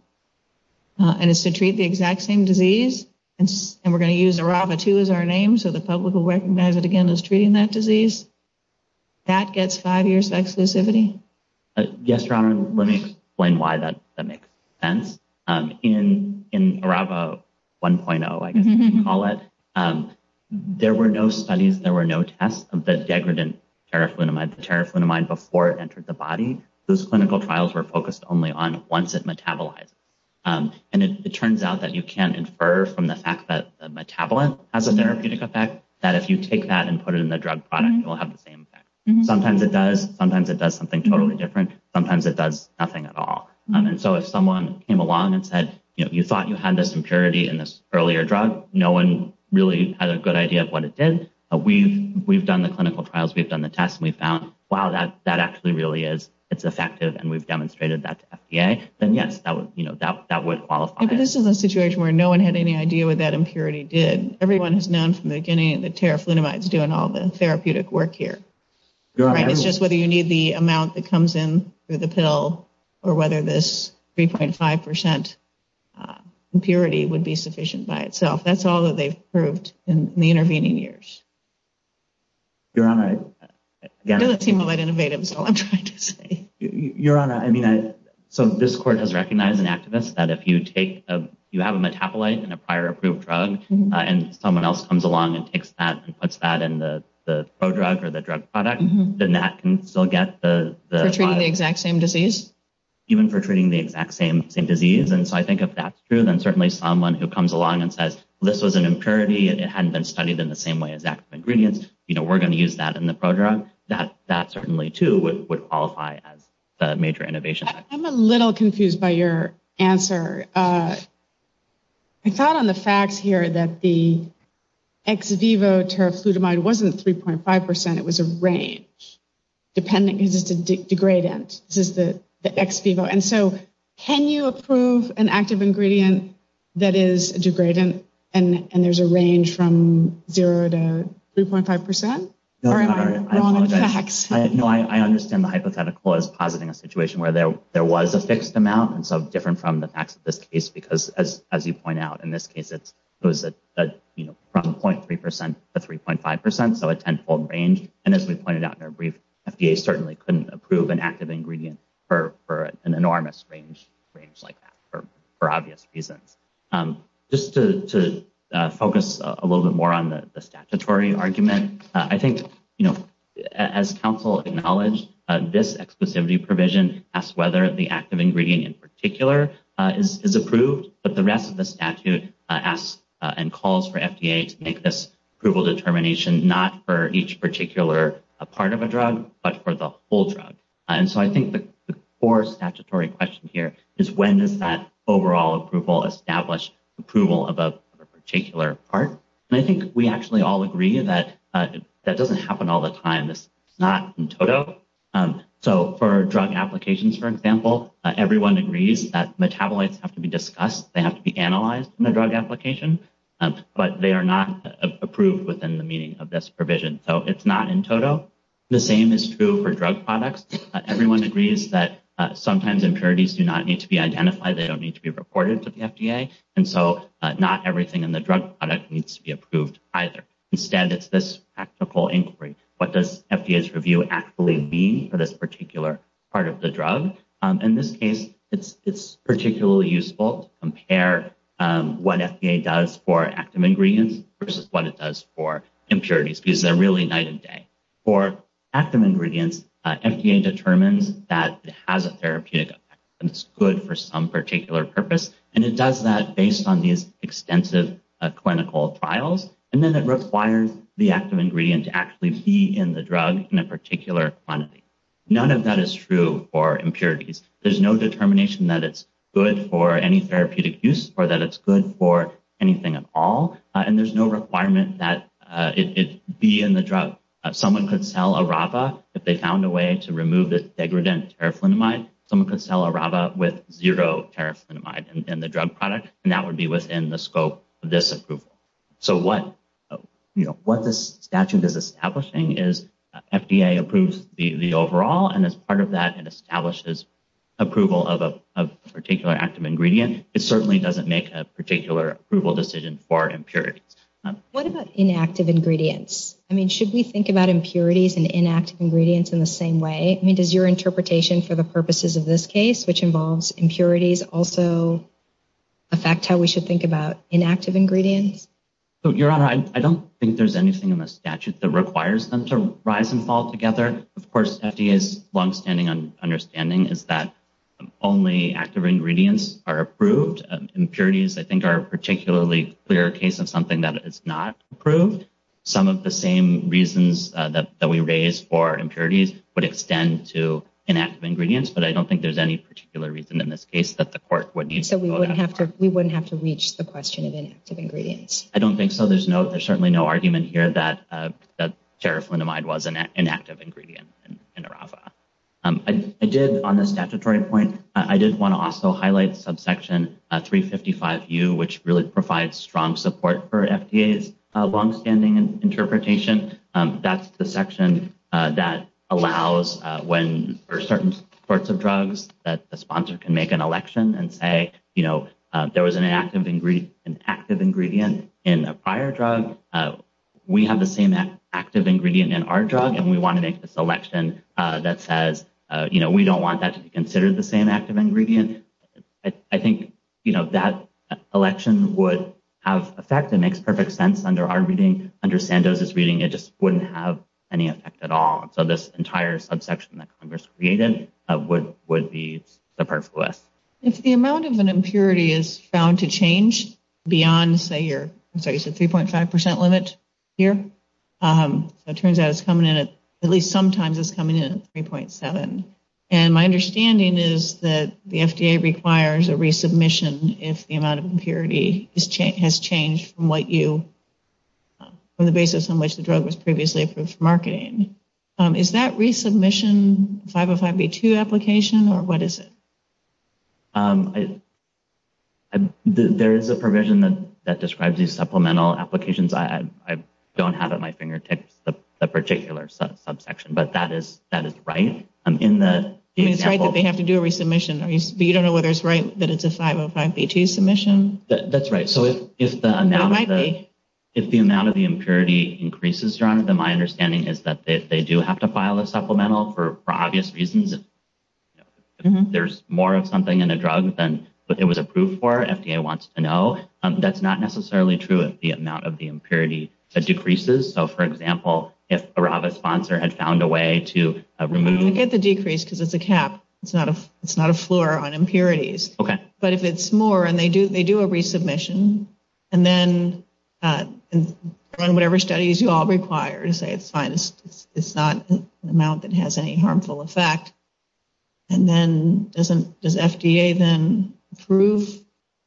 And it's to treat the exact same disease. And we're going to use Arava 2 as our name, so the public will recognize it again as treating that disease. That gets five years of exclusivity. Yes, Your Honor. Let me explain why that makes sense. In Arava 1.0, I guess you can call it, there were no studies, there were no tests of the degradant terraflunomide, before it entered the body. Those clinical trials were focused only on once it metabolized. And it turns out that you can infer from the fact that the metabolite has a therapeutic effect, that if you take that and put it in the drug product, it will have the same effect. Sometimes it does. Sometimes it does something totally different. Sometimes it does nothing at all. And so if someone came along and said, you thought you had this impurity in this earlier drug, no one really had a good idea of what it did. We've done the clinical trials. We've done the tests. And we found, wow, that actually really is, it's effective. And we've demonstrated that to FDA. And yes, that would qualify. But this is a situation where no one had any idea what that impurity did. Everyone has known from the beginning that terraflunomide is doing all the therapeutic work here. It's just whether you need the amount that comes in through the pill, or whether this 3.5% impurity would be sufficient by itself. That's all that they've proved in the intervening years. Your Honor. It doesn't seem all that innovative is what I'm trying to say. Your Honor, I mean, so this court has recognized an activist that if you take, you have a metabolite in a prior approved drug, and someone else comes along and takes that and puts that in the pro-drug or the drug product, then that can still get the… For treating the exact same disease? Even for treating the exact same disease. And so I think if that's true, then certainly someone who comes along and says, this was an impurity and it hadn't been studied in the same way, exact ingredients, you know, we're going to use that in the program. That certainly too would qualify as a major innovation. I'm a little confused by your answer. I thought on the facts here that the ex vivo terraflunomide wasn't 3.5%. It was a range. Dependent consistent degradant. This is the ex vivo. And so can you approve an active ingredient that is a degradant and there's a range from 0 to 3.5%? No, I understand the hypothetical. I was in a situation where there was a fixed amount, and so different from the facts of this case because, as you point out, in this case it was from 0.3% to 3.5%, so a tenfold range. And as we pointed out in our brief, FDA certainly couldn't approve an active ingredient for an enormous range like that for obvious reasons. Just to focus a little bit more on the statutory argument, I think, you know, as counsel acknowledged, this exclusivity provision asks whether the active ingredient in particular is approved, but the rest of the statute asks and calls for FDA to make this approval determination not for each particular part of a drug, but for the whole drug. And so I think the core statutory question here is when does that overall approval establish approval of a particular part? And I think we actually all agree that that doesn't happen all the time. It's not in total. So for drug applications, for example, everyone agrees that metabolites have to be discussed. They have to be analyzed in a drug application, but they are not approved within the meaning of this provision. So it's not in total. The same is true for drug products. Everyone agrees that sometimes impurities do not need to be identified. They don't need to be reported to the FDA. And so not everything in the drug product needs to be approved either. Instead, it's this practical inquiry. What does FDA's review actually be for this particular part of the drug? So in this case, it's particularly useful to compare what FDA does for active ingredients versus what it does for impurities, because they're really night and day. For active ingredients, FDA determines that it has a therapeutic effect and it's good for some particular purpose. And it does that based on these extensive clinical trials. And then it requires the active ingredient to actually be in the drug in a particular quantity. None of that is true for impurities. There's no determination that it's good for any therapeutic use or that it's good for anything at all. And there's no requirement that it be in the drug. Someone could sell Arava if they found a way to remove the degradant terraflinamide. Someone could sell Arava with zero terraflinamide in the drug product, and that would be within the scope of this approval. So what this statute is establishing is FDA approves the overall, and as part of that, it establishes approval of a particular active ingredient. It certainly doesn't make a particular approval decision for impurities. What about inactive ingredients? I mean, should we think about impurities and inactive ingredients in the same way? I mean, does your interpretation for the purposes of this case, which involves impurities, also affect how we should think about inactive ingredients? Your Honor, I don't think there's anything in the statute that requires them to rise and fall together. Of course FDA's longstanding understanding is that only active ingredients are approved. Impurities, I think, are a particularly clear case of something that is not approved. Some of the same reasons that we raise for impurities would extend to inactive ingredients, but I don't think there's any particular reason in this case that the court would need to go after. So we wouldn't have to reach the question of inactive ingredients. I don't think so. There's certainly no argument here that terraflinamide was an inactive ingredient in terraflinamide. I did on this statutory point, I did want to also highlight subsection 355U, which really provides strong support for FDA's longstanding interpretation. That's the section that allows when certain sorts of drugs that the sponsor can make an election and say, you know, there was an active ingredient in a prior drug. We have the same active ingredient in our drug, and we want to make the selection that says, you know, we don't want that to be considered the same active ingredient. I think, you know, that selection would have effect. It makes perfect sense under our reading. Under Sandoz's reading, it just wouldn't have any effect at all. So this entire subsection that Congress created would be the perfect list. If the amount of an impurity is bound to change beyond, say, your 3.5% limit here, it turns out it's coming in at least sometimes it's coming in at 3.7. And my understanding is that the FDA requires a resubmission if the amount of impurity has changed from what you, from the basis in which the drug was previously approved for marketing. Is that resubmission a 505B2 application, or what is it? There is a provision that describes these supplemental applications. I don't have at my fingertips a particular subsection, but that is right. It's like they have to do a resubmission, but you don't know whether it's right that it's a 505B2 submission? That's right. So if the amount of the impurity increases, my understanding is that they do have to file a supplemental for obvious reasons. If there's more of something in a drug than what it was approved for, FDA wants to know. That's not necessarily true of the amount of the impurity that decreases. So for example, if a RAVA sponsor had found a way to remove... You get the decrease because it's a cap. It's not a floor on impurities. Okay. But if it's more, and they do a resubmission, and then run whatever studies you all require to say it's fine. It's not an amount that has any harmful effect. Does FDA then approve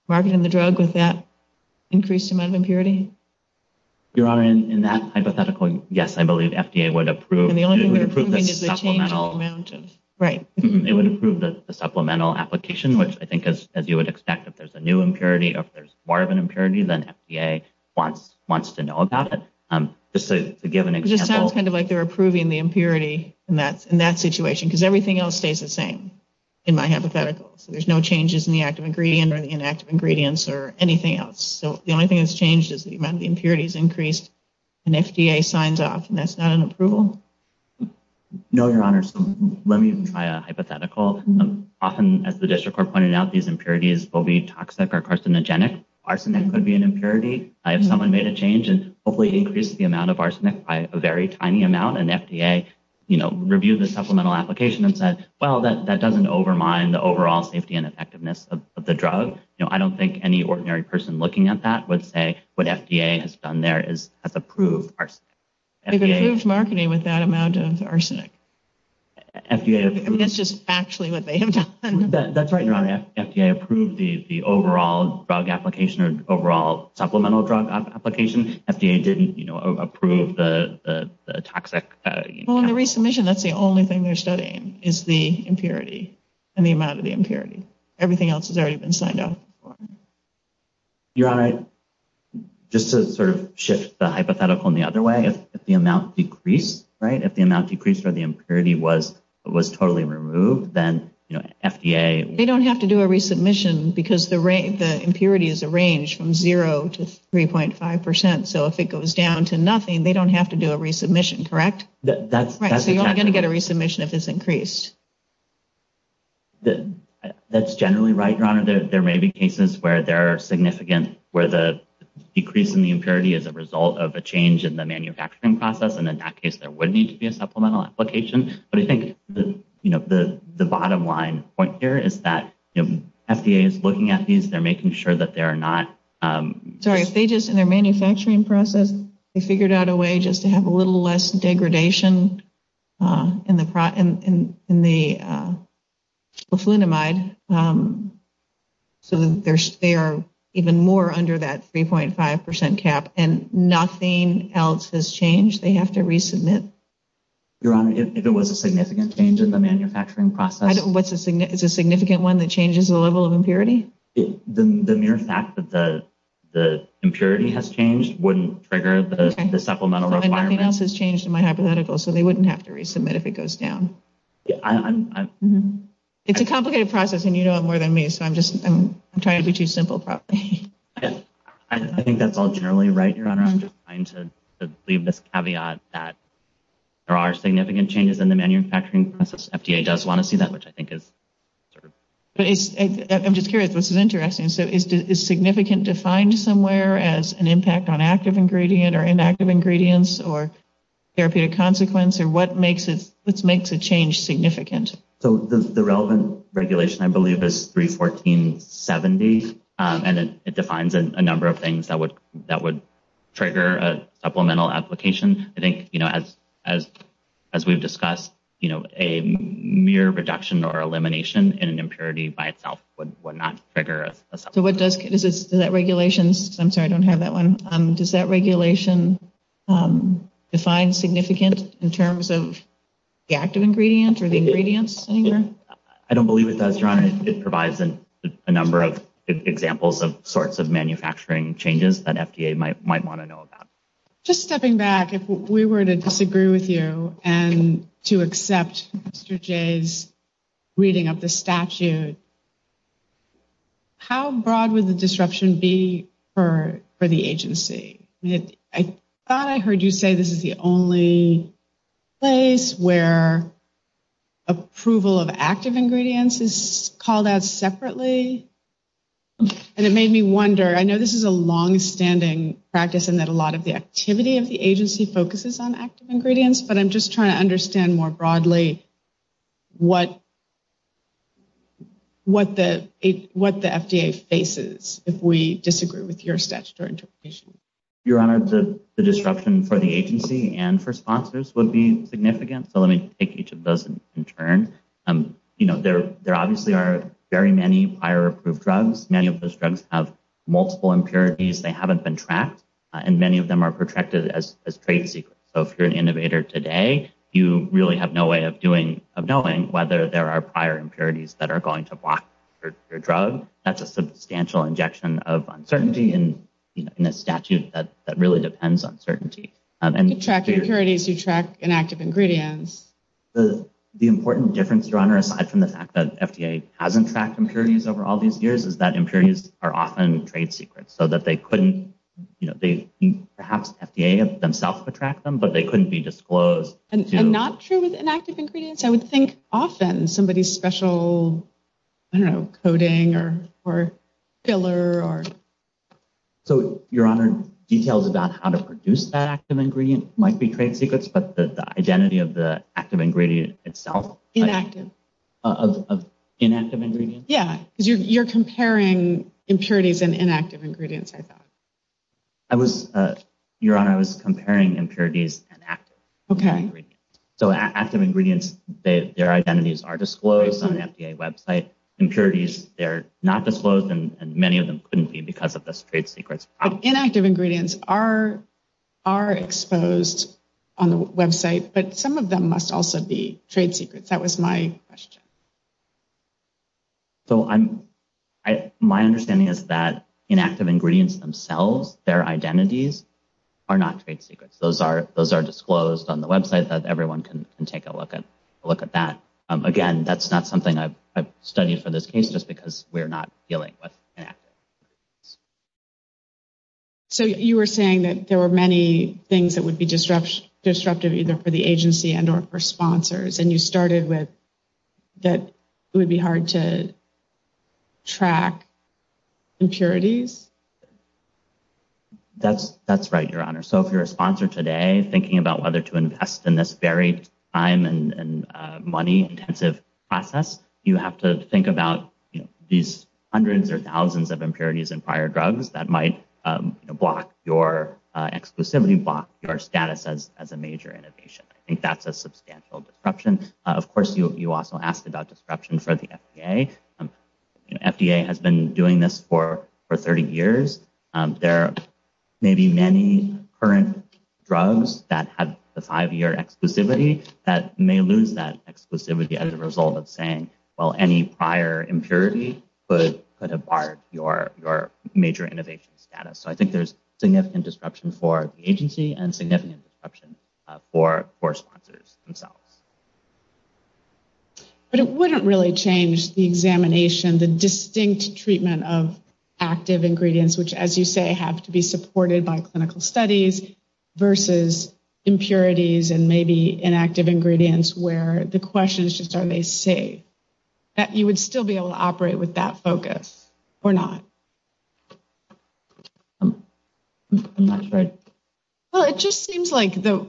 marketing the drug with that increased amount of impurity? In that hypothetical, yes. I believe FDA would approve the supplemental application, which I think as you would expect, if there's a new impurity or if there's more of an impurity, then FDA wants to know about it. Just to give an example. It sounds kind of like they're approving the impurity in that situation because everything else stays the same in my hypothetical. So there's no changes in the active ingredient or the inactive ingredients or anything else. So the only thing that's changed is the amount of impurities increased and FDA signs off. And that's not an approval? No, Your Honor. So let me try a hypothetical. Often, as the district court pointed out, these impurities will be toxic or carcinogenic. Arsenic could be an impurity. If someone made a change and hopefully increased the amount of arsenic by a very tiny amount and FDA reviewed the supplemental application and said, well, that doesn't overmine the overall safety and effectiveness of the drug. I don't think any ordinary person looking at that would say what FDA has done there is approve arsenic. There's a huge marketing with that amount of arsenic. And that's just actually what they have done. That's right, Your Honor. FDA approved the overall drug application, the overall supplemental drug application. FDA didn't approve the toxic. Well, in the resubmission, that's the only thing they're studying is the impurity and the amount of the impurity. Everything else has already been signed off. Your Honor, just to sort of shift the hypothetical in the other way, if the amount decreased, right, if the amount decreased or the impurity was totally removed, then FDA. They don't have to do a resubmission because the impurity is arranged from 3.5%. So if it goes down to nothing, they don't have to do a resubmission, correct? Right. So you're not going to get a resubmission if it's increased. That's generally right, Your Honor. There may be cases where there are significant, where the decrease in the impurity is a result of a change in the manufacturing process. And in that case, there would need to be a supplemental application. But I think, you know, the bottom line point here is that FDA is looking at these, they're making sure that they're not. Sorry. If they just, in their manufacturing process, they figured out a way just to have a little less degradation in the fluidamide. So they are even more under that 3.5% cap and nothing else has changed. They have to resubmit. Your Honor, if there was a significant change in the manufacturing process. What's a significant one that changes the level of impurity? The mere fact that the impurity has changed wouldn't trigger the supplemental requirement. And nothing else has changed in my hypothetical, so they wouldn't have to resubmit if it goes down. It's a complicated process and you know it more than me, so I'm just, I'm trying to be too simple probably. I think that's all generally right, Your Honor. I'm just trying to leave this caveat that there are significant changes in the manufacturing process. FDA does want to see that, which I think is. I'm just curious. This is interesting. Is significant defined somewhere as an impact on active ingredient or inactive ingredients or therapy of consequence? Or what makes a change significant? So the relevant regulation, I believe, is 31470. And it defines a number of things that would trigger a supplemental application. I think as we've discussed, a mere reduction or elimination in an impurity by itself would not trigger a supplemental application. So does that regulation, I'm sorry, I don't have that one. Does that regulation define significant in terms of the active ingredient or the ingredients? I don't believe it does, Your Honor. It provides a number of examples of sorts of manufacturing changes that FDA might want to know about. Just stepping back, if we were to disagree with you and to accept Mr. Jay's reading of the statute, how broad would the disruption be for the agency? I thought I heard you say this is the only place where approval of active ingredients is called out separately. And it made me wonder. I know this is a longstanding practice and that a lot of the activity of the agency focuses on active ingredients. But I'm just trying to understand more broadly what the FDA faces if we disagree with your statutory interpretation. Your Honor, the disruption for the agency and for sponsors would be significant. So let me take each of those in turn. There obviously are very many higher approved drugs. Many of those drugs have multiple impurities. They haven't been tracked. And many of them are protracted as trade secrets. So if you're an innovator today, you really have no way of knowing whether there are prior impurities that are going to block your drug. That's a substantial injection of uncertainty in a statute that really depends on certainty. To track impurities, you track inactive ingredients. The important difference, Your Honor, aside from the fact that FDA hasn't tracked impurities over all these years is that impurities are often trade secrets. So that they couldn't, you know, perhaps the FDA themselves would track them, but they couldn't be disclosed. And not true with inactive ingredients? I would think often somebody's special, I don't know, coding or filler. So, Your Honor, details about how to produce active ingredients might be trade secrets. But the identity of the active ingredient itself. Inactive. Inactive ingredients? Yeah. You're comparing impurities and inactive ingredients, I thought. I was, Your Honor, I was comparing impurities and active ingredients. Okay. So active ingredients, their identities are disclosed on the FDA website. Impurities, they're not disclosed. And many of them couldn't be because of those trade secrets. Inactive ingredients are exposed on the website. But some of them must also be trade secrets. That was my question. So my understanding is that inactive ingredients themselves, their identities, are not trade secrets. Those are disclosed on the website, so everyone can take a look at that. Again, that's not something I've studied for this case just because we're not dealing with inactive ingredients. So you were saying that there were many things that would be disruptive either for the agency and or for sponsors. And you started with that it would be hard to track impurities? That's right, Your Honor. So if you're a sponsor today, thinking about whether to invest in this very time and money intensive process, you have to think about these hundreds or thousands of impurities and prior drugs that might block your, specifically block your status as a major innovation. I think that's a substantial disruption. Of course, you also asked about disruption for the FDA. The FDA has been doing this for 30 years. There may be many current drugs that have a five-year exclusivity that may lose that exclusivity as a result of saying, well, any prior impurity would put apart your major innovation status. So I think there's significant disruption for the agency and for sponsors themselves. But it wouldn't really change the examination, the distinct treatment of active ingredients, which, as you say, have to be supported by clinical studies versus impurities and maybe inactive ingredients where the question is just are they safe? That you would still be able to operate with that focus or not. Well, it just seems like the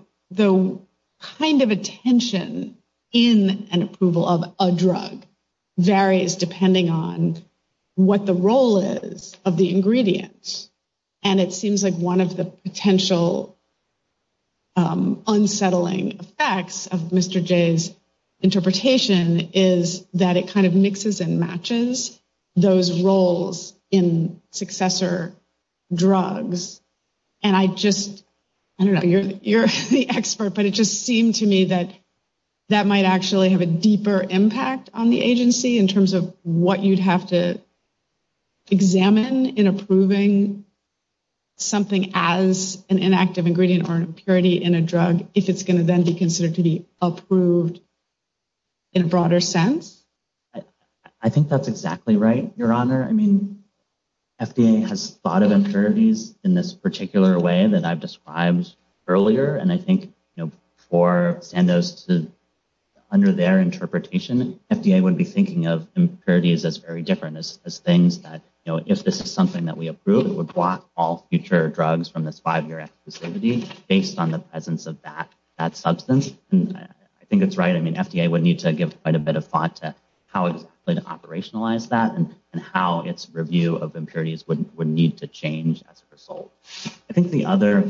kind of attention in an approval of a drug varies depending on what the role is of the ingredients. And it seems like one of the potential unsettling facts of Mr. Jay's interpretation is that it kind of mixes and matches those roles in successor drugs. And I just don't know. You're the expert. But it just seemed to me that that might actually have a deeper impact on the agency in terms of what you'd have to examine in approving something as an inactive ingredient or an impurity in a drug if it's going to then be considered to be approved in a broader sense. I think that's exactly right, Your Honor. I mean, FDA has thought of impurities in this particular way that I've described earlier. And I think, you know, for Sandoz, under their interpretation, FDA would be thinking of impurities as very different, as things that, you know, if this is something that we approve, it would block all future drugs from the five-year activity based on the presence of that substance. And I think that's right. I mean, FDA would need to give quite a bit of thought to how it would operationalize that and how its review of impurities would need to change as a result. I think the other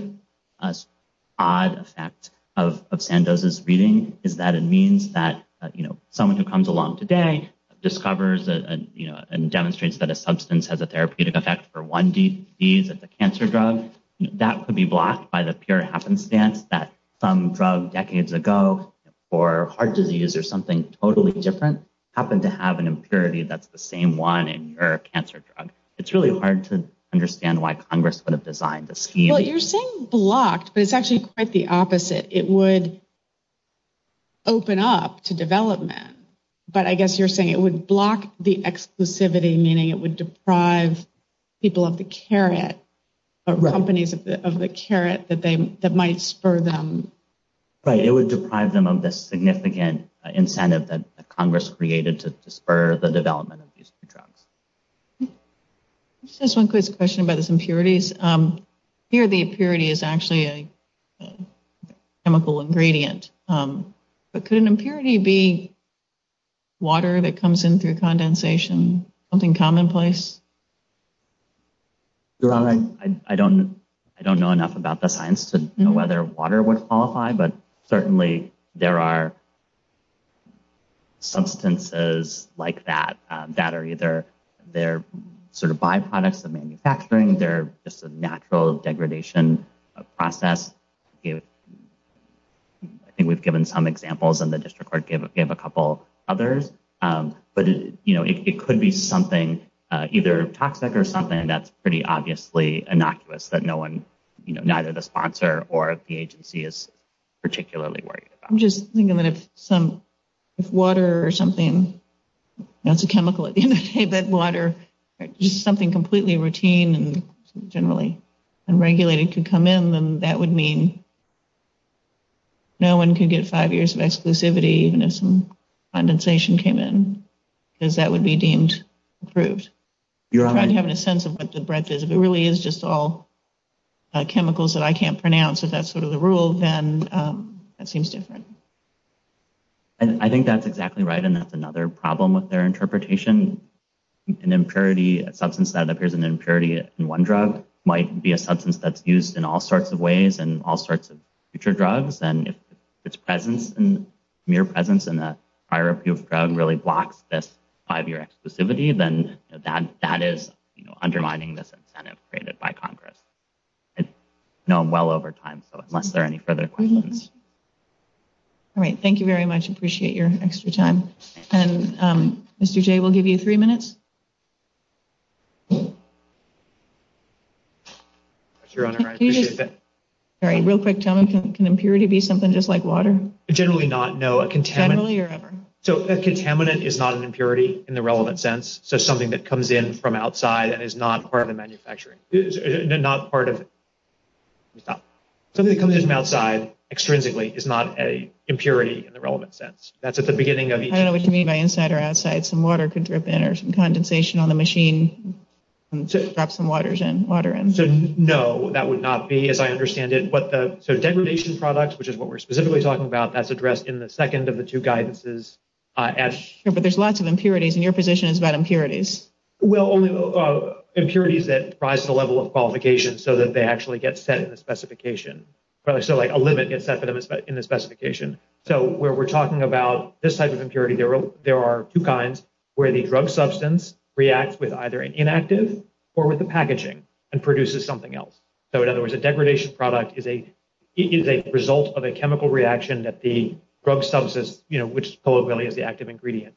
odd effect of Sandoz's reading is that it means that, you know, someone who comes along today discovers and demonstrates that a substance has a therapeutic effect for one disease, a cancer drug, that could be blocked by the pure happenstance that some drug decades ago for heart disease. So, you know, if you have a substance that's a therapeutic for heart disease, that's the same one in your cancer drug. It's really hard to understand why Congress would have designed the scheme. Well, you're saying blocked, but it's actually quite the opposite. It would open up to development. But I guess you're saying it would block the exclusivity, meaning it would deprive people of the carrot, companies of the carrot that might spur them. Right. It would deprive them of the significant incentive that Congress created to spur the development of these new drugs. Just one quick question about its impurities. Here the impurity is actually a chemical ingredient. But could an impurity be water that comes in through condensation, something commonplace? I don't know enough about the science to know whether water was qualified, but certainly there are substances like that that are either they're sort of byproducts of manufacturing. They're just a natural degradation process. I think we've given some examples and the district court gave a couple others. But, you know, it could be something either toxic or something. And that's pretty obviously innocuous that no one, you know, neither the district court or Congress is particularly worried about. I'm just thinking that if some water or something, that's a chemical at the end of the day, but water, just something completely routine and generally unregulated could come in, then that would mean no one could get five years of exclusivity even if some condensation came in because that would be deemed approved. I'm not having a sense of what the breadth is. It really is just all chemicals that I can't pronounce. If that's sort of the rule, then that seems different. And I think that's exactly right. And that's another problem with their interpretation. An impurity, a substance that appears an impurity in one drug might be a substance that's used in all sorts of ways and all sorts of future drugs. And if its presence and mere presence in a prior appeal drug really blocks this five-year exclusivity, then that is undermining this incentive created by Congress. I know I'm well over time, so unless there are any further questions. All right. Thank you very much. Appreciate your extra time. And Mr. Jay, we'll give you three minutes. Real quick, can impurity be something just like water? Generally not, no. So a contaminant is not an impurity in the relevant sense, so something that comes in from outside and is not part of the manufacturing. Not part of it. Something that comes in from outside, extrinsically, is not an impurity in the relevant sense. I don't know what you mean by inside or outside. Some water could drip in or some condensation on the machine drops some water in. No, that would not be, as I understand it. So degradation products, which is what we're specifically talking about, that's addressed in the second of the two guidances. But there's lots of impurities, and your position is about impurities. Well, impurities that rise to the level of qualification so that they actually get set in the specification. So a limit gets set in the specification. So where we're talking about this type of impurity, there are two kinds, where the drug substance reacts with either an inactive or with the packaging and produces something else. So in other words, a degradation product is a result of a chemical reaction that the drug substance, which is the active ingredient,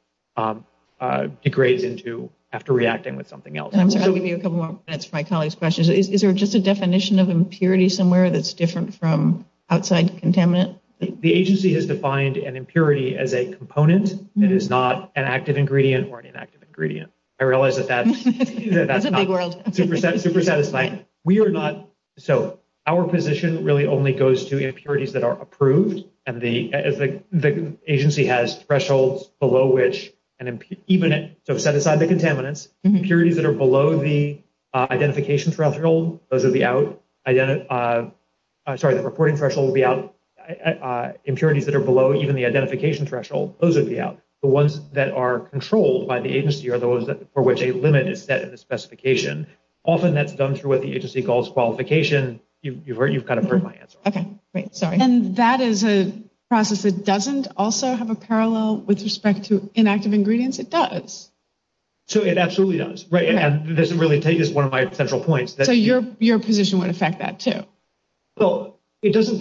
degrades into after reacting with something else. I'm just going to give you a couple more minutes for my colleagues' questions. Is there just a definition of impurity somewhere that's different from outside contaminant? The agency has defined an impurity as a component. It is not an active ingredient or an inactive ingredient. I realize that that's not 2%. So our position really only goes to impurities that are approved. The agency has thresholds below which an impurity, so set aside the contaminants, impurities that are below the identification threshold, those would be out. Sorry, the reporting threshold would be out. Impurities that are below even the identification threshold, those would be out. The ones that are controlled by the agency are those for which a limit is set in the specification. Often that's done through what the agency calls qualification. You've kind of heard my answer. Okay, great. Sorry. And that is a process that doesn't also have a parallel with respect to inactive ingredients? It does. It absolutely does. Right. And this really is one of my central points. So your position would affect that too? Well, it doesn't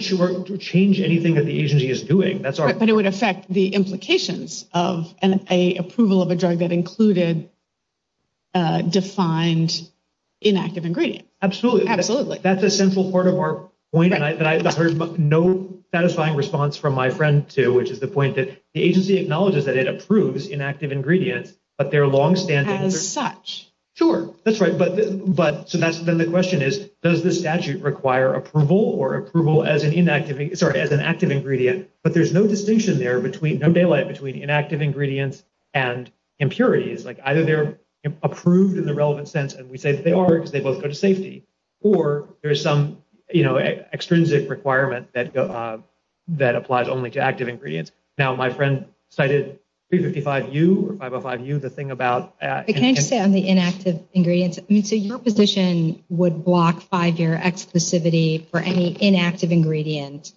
change anything that the agency is doing. But it would affect the implications of an approval of a drug that included defined inactive ingredient. Absolutely. Absolutely. That's a central part of our point. And I heard no satisfying response from my friend too, which is the point that the agency acknowledges that it approves inactive ingredient, but their long-standing. As such. Sure. That's right. So then the question is, does the statute require approval or approval as an inactive, sorry, as an active ingredient? But there's no distinction there, no delay between inactive ingredients and impurities. Like either they're approved in the relevant sense, and we say they are because they both go to safety. Or there's some extrinsic requirement that applies only to active ingredients. Now, my friend cited 355U, or 505U, the thing about. Can I just say on the inactive ingredients? I mean, so your position would block five-year exclusivity for any inactive ingredient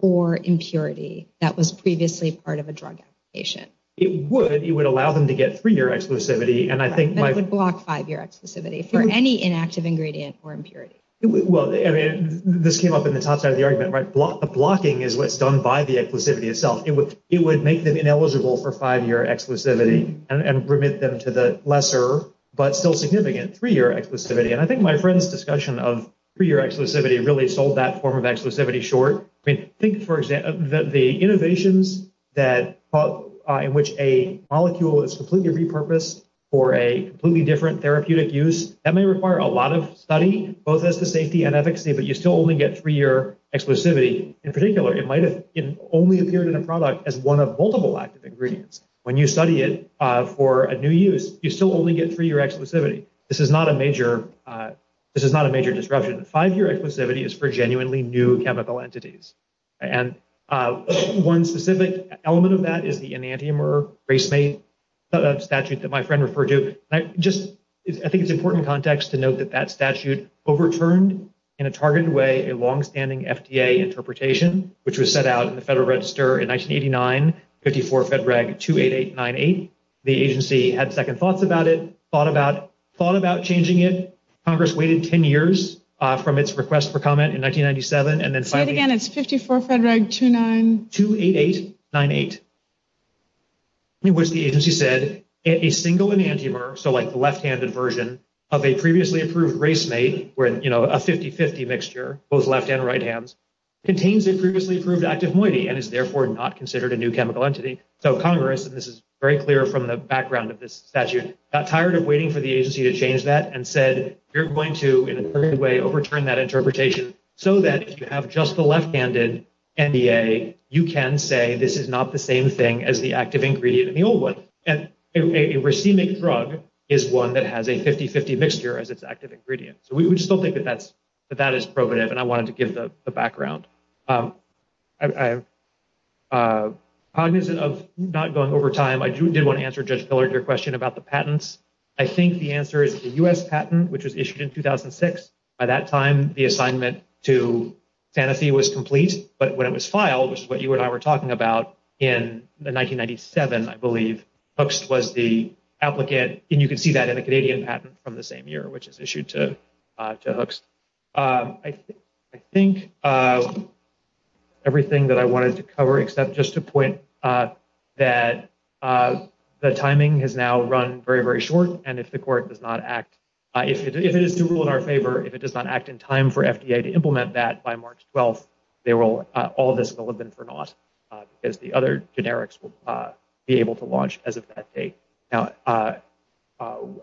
or impurity that was previously part of a drug application? It would. It would allow them to get three-year exclusivity. It would block five-year exclusivity for any inactive ingredient or impurity. Well, I mean, this came up in the top side of the argument, right? The blocking is what's done by the exclusivity itself. It would make them ineligible for five-year exclusivity and permit them to the lesser, but still significant, three-year exclusivity. And I think my friend's discussion of three-year exclusivity really sold that form of exclusivity short. I think, for example, the innovations in which a molecule is completely repurposed for a completely different therapeutic use, that may require a lot of study, both as to safety and efficacy, but you still only get three-year exclusivity. In particular, it might have only appeared in a product as one of multiple active ingredients. When you study it for a new use, you still only get three-year exclusivity. This is not a major disruption. Five-year exclusivity is for genuinely new chemical entities. And one specific element of that is the enantiomer race-mate statute that my friend referred to. I think it's important context to note that that statute overturned, in a targeted way, a long-standing FDA interpretation, which was set out in the Federal Register in 1989, 54-FEDRAG-28898. The agency had second thoughts about it, thought about changing it. Congress waited 10 years from its request for comment in 1997, and then in 1998, 54-FEDRAG-28898, in which the agency said, a single enantiomer, so like the left-handed version of a previously approved race-mate, where, you know, a 50-50 mixture, both left and right hands, contains a previously approved active moiety, and is therefore not considered a new chemical entity. So Congress, and this is very clear from the background of this statute, got tired of waiting for the agency to change that, and said, you're going to, in just the left-handed NDA, you can say this is not the same thing as the active ingredient in the old one. And a race-mate drug is one that has a 50-50 mixture as its active ingredient. So we still think that that is probative, and I wanted to give the background. Cognizant of not going over time, I do want to answer Judge Pillard, your question about the patents. I think the answer is the U.S. patent, which was issued in 2006. By that time, the assignment to Sanofi was complete, but when it was filed, which is what you and I were talking about, in 1997, I believe, Hooks was the applicant, and you can see that in a Canadian patent from the same year, which is issued to Hooks. I think everything that I wanted to cover, except just to point that the timing has now run very, very short, and if the court does not act, if it is to rule in our favor, if it does not act in time for FDA to implement that by March 12th, all of this will have been turned off, because the other generics will be able to launch as of that date. Now,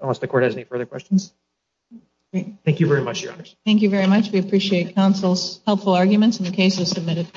unless the court has any further questions? Thank you very much, Your Honor. Thank you very much. We appreciate counsel's helpful arguments and the cases submitted.